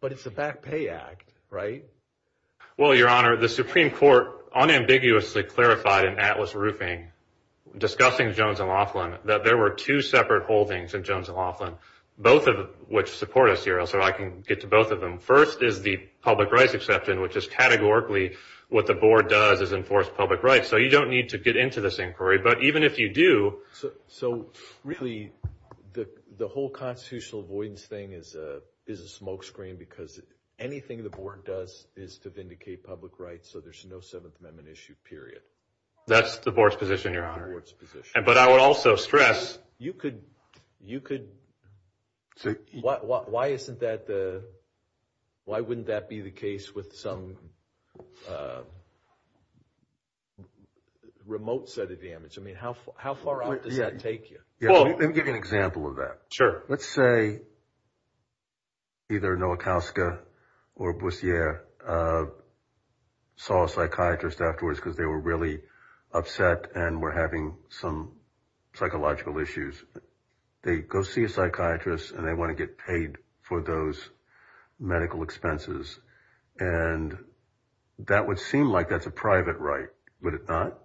But it's a back pay act, right? Well, Your Honor, the Supreme Court unambiguously clarified in Atlas Rupinger, discussing Jones and Laughlin, that there were two separate holdings in Jones and Laughlin, both of which support us here, so I can get to both of them. First is the public rights exception, which is categorically what the board does is enforce public rights. So you don't need to get into this inquiry, but even if you do. So really, the whole constitutional avoidance thing is a smoke screen, because anything the board does is to vindicate public rights, so there's no Seventh Amendment issue, period. That's the board's position, Your Honor. But I would also stress. You could, why isn't that the, why wouldn't that be the case with some remote set of damage? I mean, how far out does that take you? Yeah, let me give you an example of that. Sure. Let's say either Nowakowska or Boussier saw a psychiatrist afterwards because they were really upset and were having some psychological issues. They go see a psychiatrist and they want to get paid for those medical expenses. And that would seem like that's a private right. Would it not?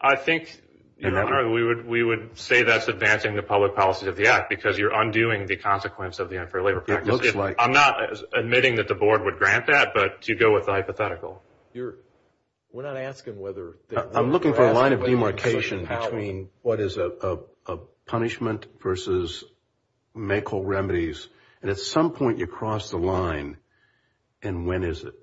I think, Your Honor, we would say that's advancing the public policies of the act because you're undoing the consequence of the unfair labor practice. It looks like. I'm not admitting that the board would grant that, but you go with the hypothetical. We're not asking whether. I'm looking for a line of demarcation between what is a punishment versus medical remedies. And at some point you cross the line. And when is it?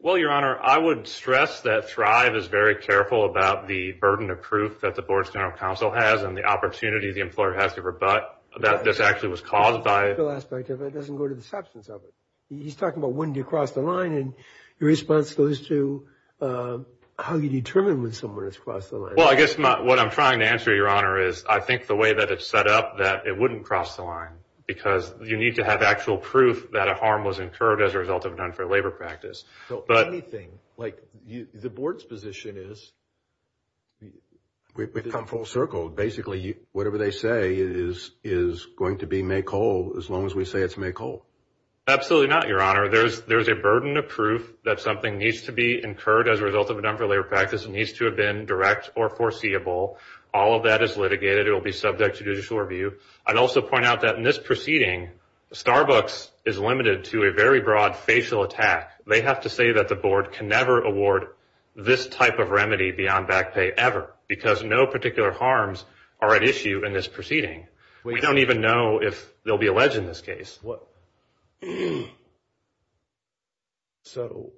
Well, Your Honor, I would stress that Thrive is very careful about the burden of proof that the board's general counsel has and the opportunity the employer has to rebut that this actually was caused by. The legal aspect of it doesn't go to the substance of it. He's talking about when you cross the line and your response goes to how you determine when someone has crossed the line. Well, I guess what I'm trying to answer, Your Honor, is I think the way that it's set up that it wouldn't cross the line because you need to have actual proof that a harm was incurred as a result of an unfair labor practice. But anything, like the board's position is. We've come full circle. Basically, whatever they say is going to be make whole as long as we say it's make whole. Absolutely not, Your Honor. There's a burden of proof that something needs to be incurred as a result of an unfair labor practice. It needs to have been direct or foreseeable. All of that is litigated. It'll be subject to judicial review. I'd also point out that in this proceeding, Starbucks is limited to a very broad facial attack. They have to say that the board can never award this type of remedy beyond back pay ever because no particular harms are at issue in this proceeding. We don't even know if they'll be alleged in this case. So,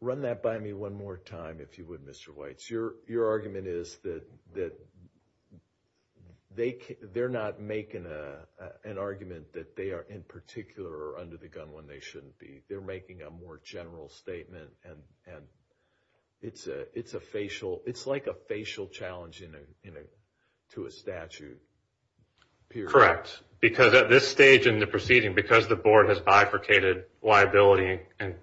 run that by me one more time, if you would, Mr. Weitz. Your argument is that they're not making an argument that they are, in particular, under the gun when they shouldn't be. They're making a more general statement. It's like a facial challenge to a statute. Correct. Because at this stage in the proceeding, because the board has bifurcated liability and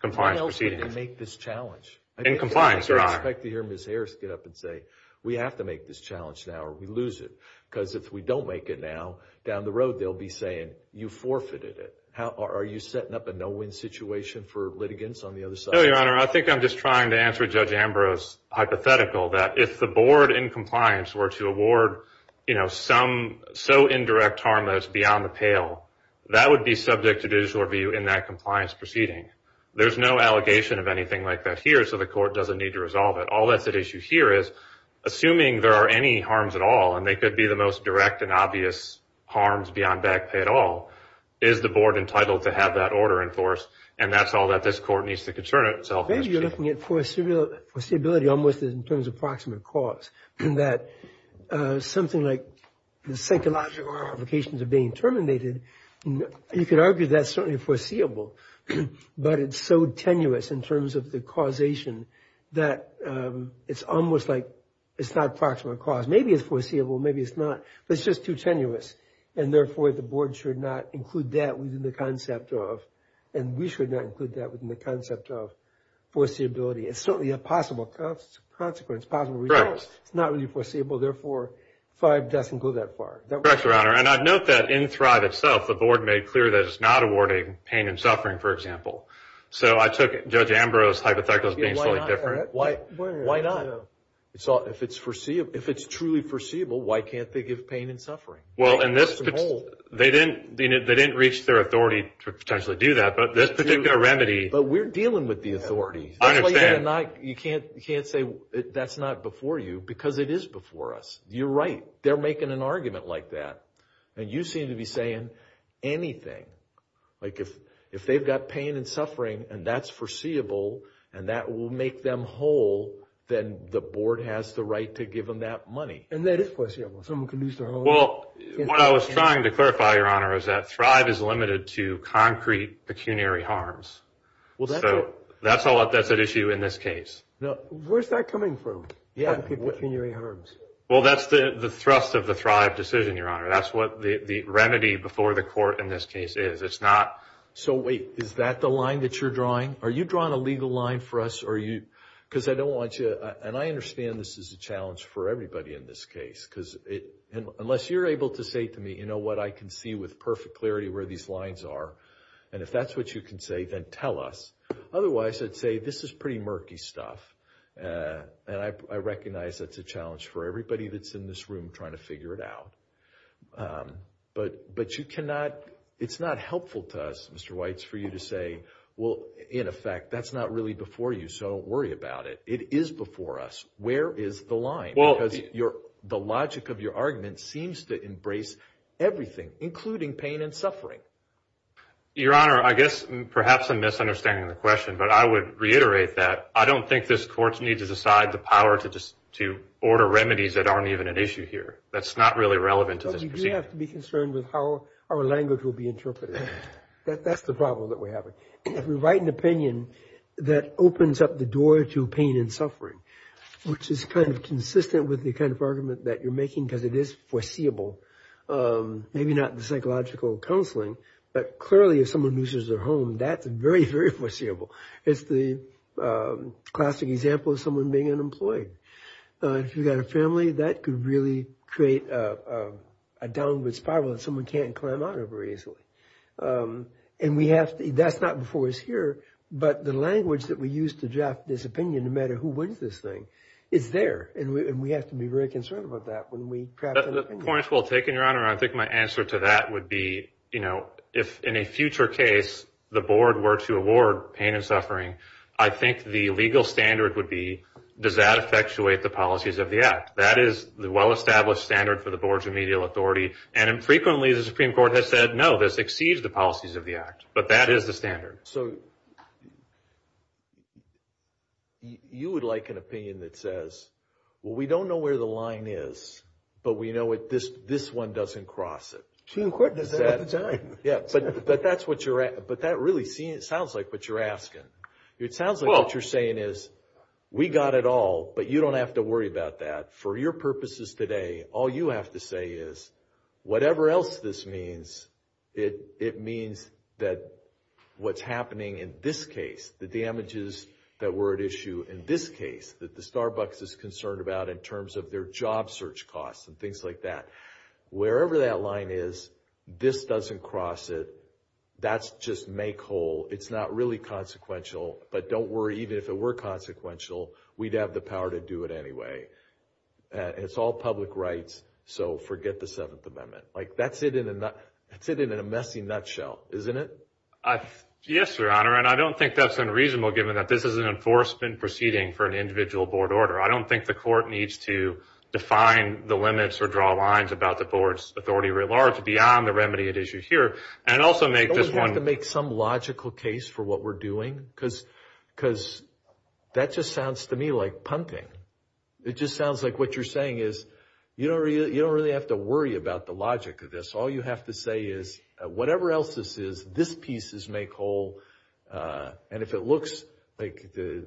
compliance proceedings. Who else would make this challenge? In compliance, Your Honor. I'd like to hear Ms. Harris get up and say, we have to make this challenge now or we lose it. Because if we don't make it now, down the road they'll be saying, you forfeited it. Are you setting up a no-win situation for litigants on the other side? No, Your Honor. I think I'm just trying to answer Judge Ambrose's hypothetical that if the board in compliance were to award some so indirect harm that it's beyond the pale, that would be subject to judicial review in that compliance proceeding. There's no allegation of anything like that here, so the court doesn't need to resolve it. All that's at issue here is, assuming there are any harms at all, and they could be the most direct and obvious harms beyond back pay at all, is the board entitled to have that order enforced? And that's all that this court needs to concern itself with. Maybe you're looking at foreseeability almost in terms of approximate cause. In that something like the psychological ramifications of being terminated, you could argue that's certainly foreseeable. But it's so tenuous in terms of the causation that it's almost like it's not approximate cause. Maybe it's foreseeable, maybe it's not, but it's just too tenuous. And therefore, the board should not include that within the concept of, and we should not include that within the concept of foreseeability. It's certainly a possible consequence, possible result. It's not really foreseeable, therefore, five doesn't go that far. Correct, Your Honor. And I'd note that in Thrive itself, the board made clear that it's not awarding pain and suffering, for example. So I took Judge Ambrose hypothetical as being slightly different. Why not? So if it's truly foreseeable, why can't they give pain and suffering? Well, and this, they didn't reach their authority to potentially do that, but this particular remedy. But we're dealing with the authority. I understand. You can't say that's not before you because it is before us. You're right, they're making an argument like that. And you seem to be saying anything. Like if they've got pain and suffering and that's foreseeable, and that will make them whole, then the board has the right to give them that money. And that is foreseeable. Someone can lose their whole... Well, what I was trying to clarify, Your Honor, is that Thrive is limited to concrete pecuniary harms. Well, that's a... That's an issue in this case. Now, where's that coming from? Yeah. Pecuniary harms. Well, that's the thrust of the Thrive decision, Your Honor. That's what the remedy before the court in this case is. It's not... So wait, is that the line that you're drawing? Are you drawing a legal line for us? Are you... Because I don't want you... And I understand this is a challenge for everybody in this case. Because unless you're able to say to me, you know what, I can see with perfect clarity where these lines are. And if that's what you can say, then tell us. Otherwise, I'd say, this is pretty murky stuff. And I recognize that's a challenge for everybody that's in this room trying to figure it out. But you cannot... It's not helpful to us, Mr. Weitz, for you to say, well, in effect, that's not really before you, so don't worry about it. It is before us. Where is the line? Because the logic of your argument seems to embrace everything, including pain and suffering. Your Honor, I guess perhaps I'm misunderstanding the question, but I would reiterate that I don't think this court needs to decide the power to order remedies that aren't even an issue here. That's not really relevant to this proceeding. But we do have to be concerned with how our language will be interpreted. That's the problem that we have. If we write an opinion that opens up the door to pain and suffering, which is kind of consistent with the kind of argument that you're making, because it is foreseeable, maybe not the psychological counseling, but clearly if someone loses their home, that's very, very foreseeable. It's the classic example of someone being unemployed. If you've got a family, that could really create a downward spiral that someone can't climb out of very easily. And we have to, that's not before us here, but the language that we use to draft this opinion, no matter who wins this thing, is there. And we have to be very concerned about that when we draft an opinion. The point's well taken, Your Honor. I think my answer to that would be, if in a future case, the board were to award pain and suffering, I think the legal standard would be, does that effectuate the policies of the act? That is the well-established standard for the boards of medial authority, and frequently the Supreme Court has said, no, this exceeds the policies of the act, but that is the standard. So, you would like an opinion that says, well, we don't know where the line is, but we know this one doesn't cross it. Too quick to say at the time. Yeah, but that's what you're, but that really sounds like what you're asking. It sounds like what you're saying is, we got it all, but you don't have to worry about that. For your purposes today, all you have to say is, whatever else this means, it means that what's happening in this case, the damages that were at issue in this case, that the Starbucks is concerned about in terms of their job search costs and things like that. Wherever that line is, this doesn't cross it. That's just make whole. It's not really consequential, but don't worry, even if it were consequential, we'd have the power to do it anyway. And it's all public rights, so forget the Seventh Amendment. That's it in a messy nutshell, isn't it? Yes, Your Honor, and I don't think that's unreasonable given that this is an enforcement proceeding for an individual board order. I don't think the court needs to define the limits or draw lines about the board's authority at large beyond the remedy at issue here. And also make this one- Don't we have to make some logical case for what we're doing? Because that just sounds to me like punting. It just sounds like what you're saying is you don't really have to worry about the logic of this. All you have to say is, whatever else this is, this piece is make whole. And if it looks like the,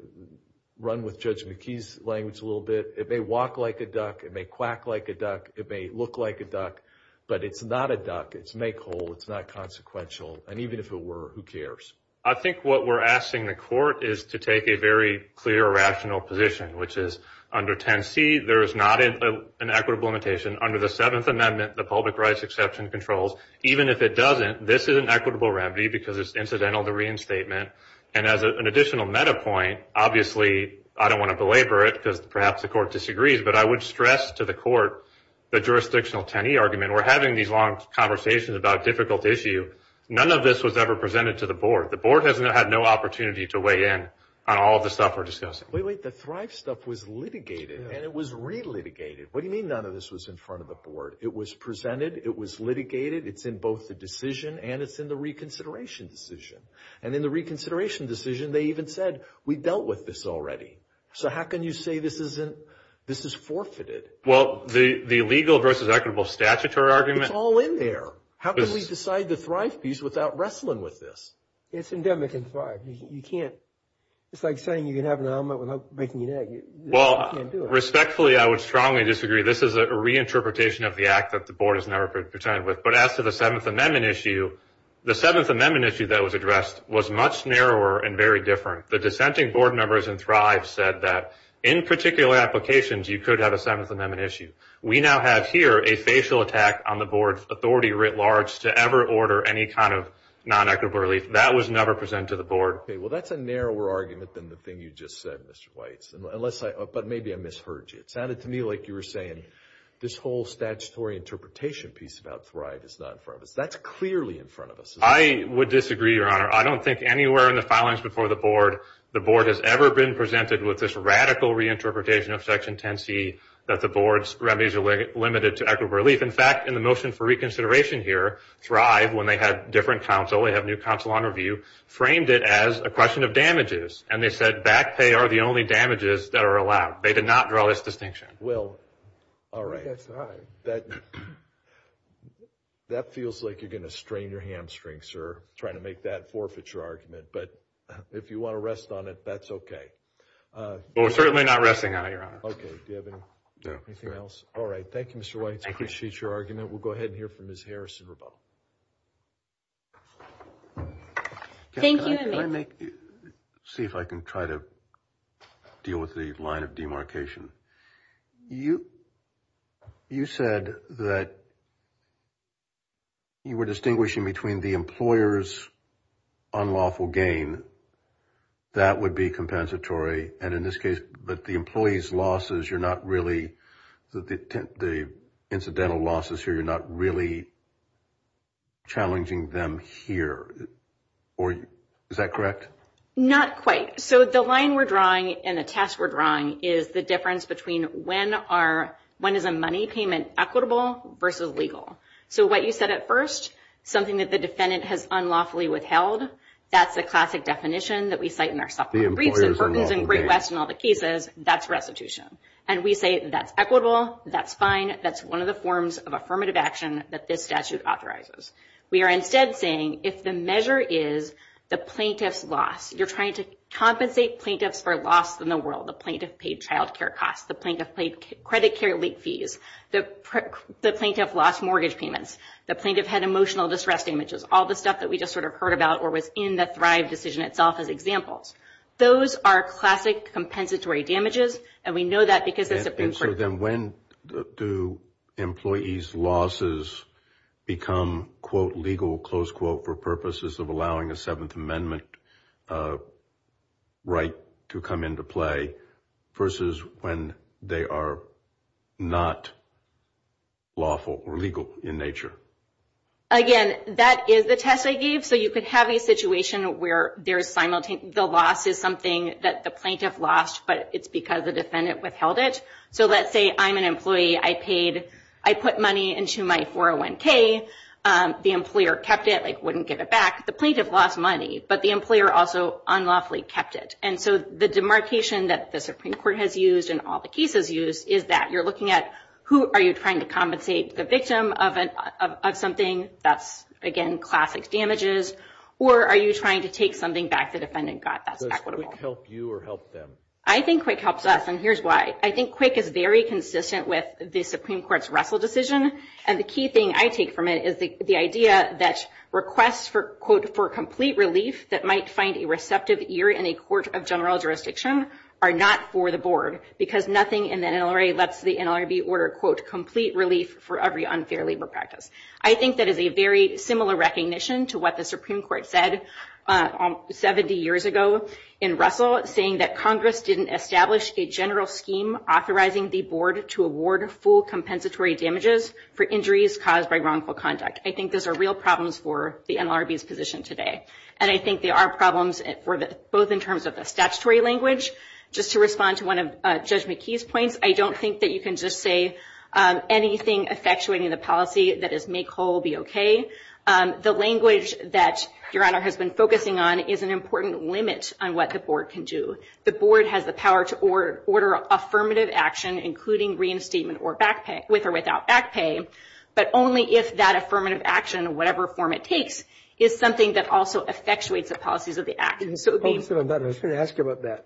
run with Judge McKee's language a little bit, it may walk like a duck, it may quack like a duck, it may look like a duck, but it's not a duck. It's make whole, it's not consequential. And even if it were, who cares? I think what we're asking the court is to take a very clear, rational position, which is under 10C, there is not an equitable limitation. Under the Seventh Amendment, the public rights exception controls. Even if it doesn't, this is an equitable remedy because it's incidental to reinstatement. And as an additional meta point, obviously, I don't want to belabor it because perhaps the court disagrees, but I would stress to the court, the jurisdictional 10E argument. We're having these long conversations about difficult issue. None of this was ever presented to the board. The board has had no opportunity to weigh in on all of the stuff we're discussing. Wait, wait, the Thrive stuff was litigated and it was re-litigated. What do you mean none of this was in front of the board? It was presented, it was litigated, it's in both the decision and it's in the reconsideration decision. And in the reconsideration decision, they even said, we dealt with this already. So how can you say this is forfeited? Well, the legal versus equitable statutory argument. It's all in there. How can we decide the Thrive piece without wrestling with this? It's endemic in Thrive. You can't, it's like saying you can have an almond without breaking your neck. Well, respectfully, I would strongly disagree. This is a reinterpretation of the act that the board has never presented with. But as to the Seventh Amendment issue, the Seventh Amendment issue that was addressed was much narrower and very different. The dissenting board members in Thrive said that in particular applications, you could have a Seventh Amendment issue. We now have here a facial attack on the board's authority writ large to ever order any kind of non-equitable relief. That was never presented to the board. Okay, well, that's a narrower argument than the thing you just said, Mr. Weitz. But maybe I misheard you. It sounded to me like you were saying this whole statutory interpretation piece about Thrive is not in front of us. That's clearly in front of us. I would disagree, Your Honor. I don't think anywhere in the filings before the board, the board has ever been presented with this radical reinterpretation of Section 10c that the board's remedies are limited to equitable relief. In fact, in the motion for reconsideration here, Thrive, when they had different counsel, they have a new counsel on review, framed it as a question of damages. And they said back pay are the only damages that are allowed. They did not draw this distinction. Well, all right. That feels like you're gonna strain your hamstrings, sir, trying to make that forfeiture argument. But if you wanna rest on it, that's okay. Well, we're certainly not resting on it, Your Honor. Okay, do you have anything else? All right, thank you, Mr. Weitz. I appreciate your argument. We'll go ahead and hear from Ms. Harrison-Rebeau. Thank you, and may I? See if I can try to deal with the line of demarcation. You said that you were distinguishing between the employer's unlawful gain. That would be compensatory. And in this case, but the employee's losses, you're not really, the incidental losses here, you're not really challenging them here. Is that correct? Not quite. So the line we're drawing and the test we're drawing is the difference between when is a money payment equitable versus legal. So what you said at first, something that the defendant has unlawfully withheld, that's the classic definition that we cite in our supplement briefs and burdens in Great West and all the cases, that's restitution. And we say that's equitable, that's fine, that's one of the forms of affirmative action that this statute authorizes. We are instead saying if the measure is the plaintiff's loss, you're trying to compensate plaintiffs for loss in the world, the plaintiff paid childcare costs, the plaintiff paid credit care late fees, the plaintiff lost mortgage payments, the plaintiff had emotional distress damages, all the stuff that we just sort of heard about or was in the Thrive decision itself as examples. Those are classic compensatory damages and we know that because the Supreme Court- And so then when do employees' losses become quote legal, close quote, for purposes of allowing a Seventh Amendment right to come into play versus when they are not lawful or legal in nature? Again, that is the test I gave. So you could have a situation where the loss is something that the plaintiff lost but it's because the defendant withheld it. So let's say I'm an employee, I put money into my 401k, the employer kept it, wouldn't give it back, the plaintiff lost money but the employer also unlawfully kept it. And so the demarcation that the Supreme Court has used and all the cases use is that you're looking at who are you trying to compensate the victim of something, that's again, classic damages, or are you trying to take something back the defendant got that's equitable? Does QUIC help you or help them? I think QUIC helps us and here's why. I think QUIC is very consistent with the Supreme Court's Russell decision and the key thing I take from it is the idea that requests for quote, for complete relief that might find a receptive ear in a court of general jurisdiction are not for the board because nothing in the NLRA lets the NLRB order quote, complete relief for every unfair labor practice. I think that is a very similar recognition to what the Supreme Court said 70 years ago in Russell saying that Congress didn't establish a general scheme authorizing the board to award full compensatory damages for injuries caused by wrongful conduct. I think those are real problems for the NLRB's position today. And I think there are problems both in terms of the statutory language, just to respond to one of Judge McKee's points, I don't think that you can just say anything effectuating the policy that is make whole be okay. The language that Your Honor has been focusing on is an important limit on what the board can do. The board has the power to order affirmative action including reinstatement with or without back pay, but only if that affirmative action, whatever form it takes, is something that also effectuates the policies of the act. So it would be- I was gonna ask you about that.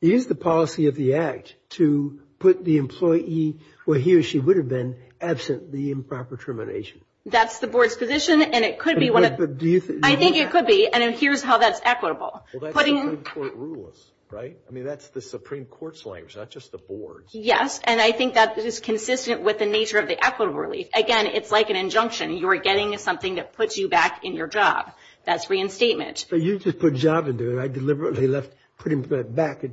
Use the policy of the act to put the employee where he or she would have been absent the improper termination. That's the board's position, and it could be one of the- Do you think- I think it could be, and here's how that's equitable. Well, that's the Supreme Court rules, right? I mean, that's the Supreme Court's language, not just the board's. Yes, and I think that is consistent with the nature of the equitable relief. Again, it's like an injunction. You are getting something that puts you back in your job. That's reinstatement. But you just put job into it. I deliberately left putting back,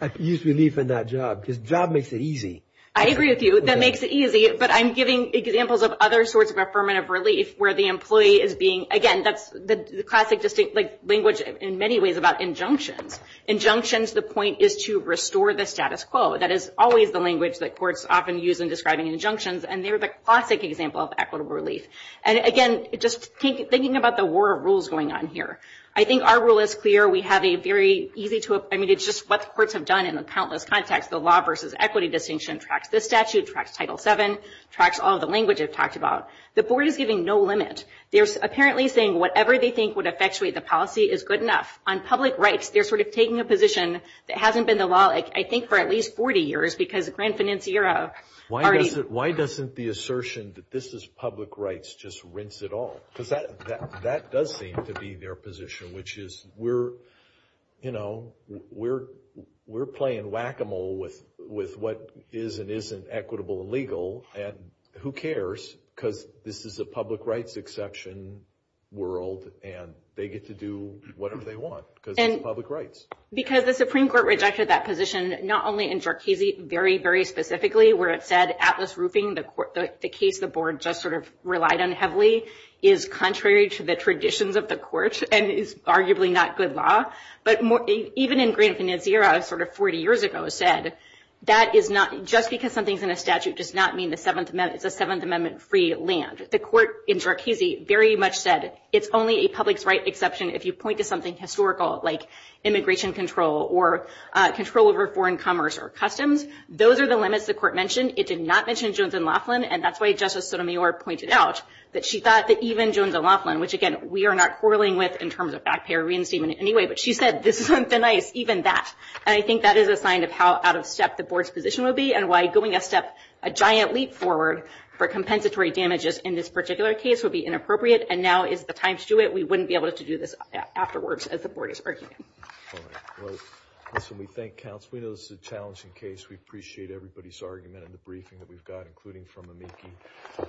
I could use relief in that job, because job makes it easy. I agree with you. That makes it easy, but I'm giving examples of other sorts of affirmative relief where the employee is being- Again, that's the classic distinct language in many ways about injunctions. Injunctions, the point is to restore the status quo. That is always the language that courts often use in describing injunctions, and they're the classic example of equitable relief. And again, just thinking about the war of rules going on here. I think our rule is clear. We have a very easy to- I mean, it's just what the courts have done in the countless contexts. The law versus equity distinction tracks this statute, tracks Title VII, tracks all the language I've talked about. The board is giving no limit. They're apparently saying whatever they think would effectuate the policy is good enough. On public rights, they're sort of taking a position that hasn't been the law, I think for at least 40 years, because the grand financier already- Why doesn't the assertion that this is public rights just rinse it all? Because that does seem to be their position, which is we're playing whack-a-mole with what is and isn't equitable and legal, and who cares? Because this is a public rights exception world, and they get to do whatever they want, because it's public rights. Because the Supreme Court rejected that position, not only in Jarchese, very, very specifically, where it said Atlas Roofing, the case the board just sort of relied on heavily, is contrary to the traditions of the court, and is arguably not good law. But even in grand financier, sort of 40 years ago, said that just because something's in a statute does not mean it's a Seventh Amendment-free land. The court in Jarchese very much said, it's only a public rights exception if you point to something historical, like immigration control, or control over foreign commerce or customs. Those are the limits the court mentioned. It did not mention Jones and Laughlin, and that's why Justice Sotomayor pointed out that she thought that even Jones and Laughlin, which again, we are not quarreling with in terms of back pay or reinstatement in any way, but she said, this isn't the nice, even that. And I think that is a sign of how out of step the board's position will be, and why going a step, a giant leap forward for compensatory damages in this particular case would be inappropriate, and now is the time to do it. We wouldn't be able to do this afterwards as the board is arguing. All right, well, listen, we thank counsel. We know this is a challenging case. We appreciate everybody's argument in the briefing that we've got, including from Amiki.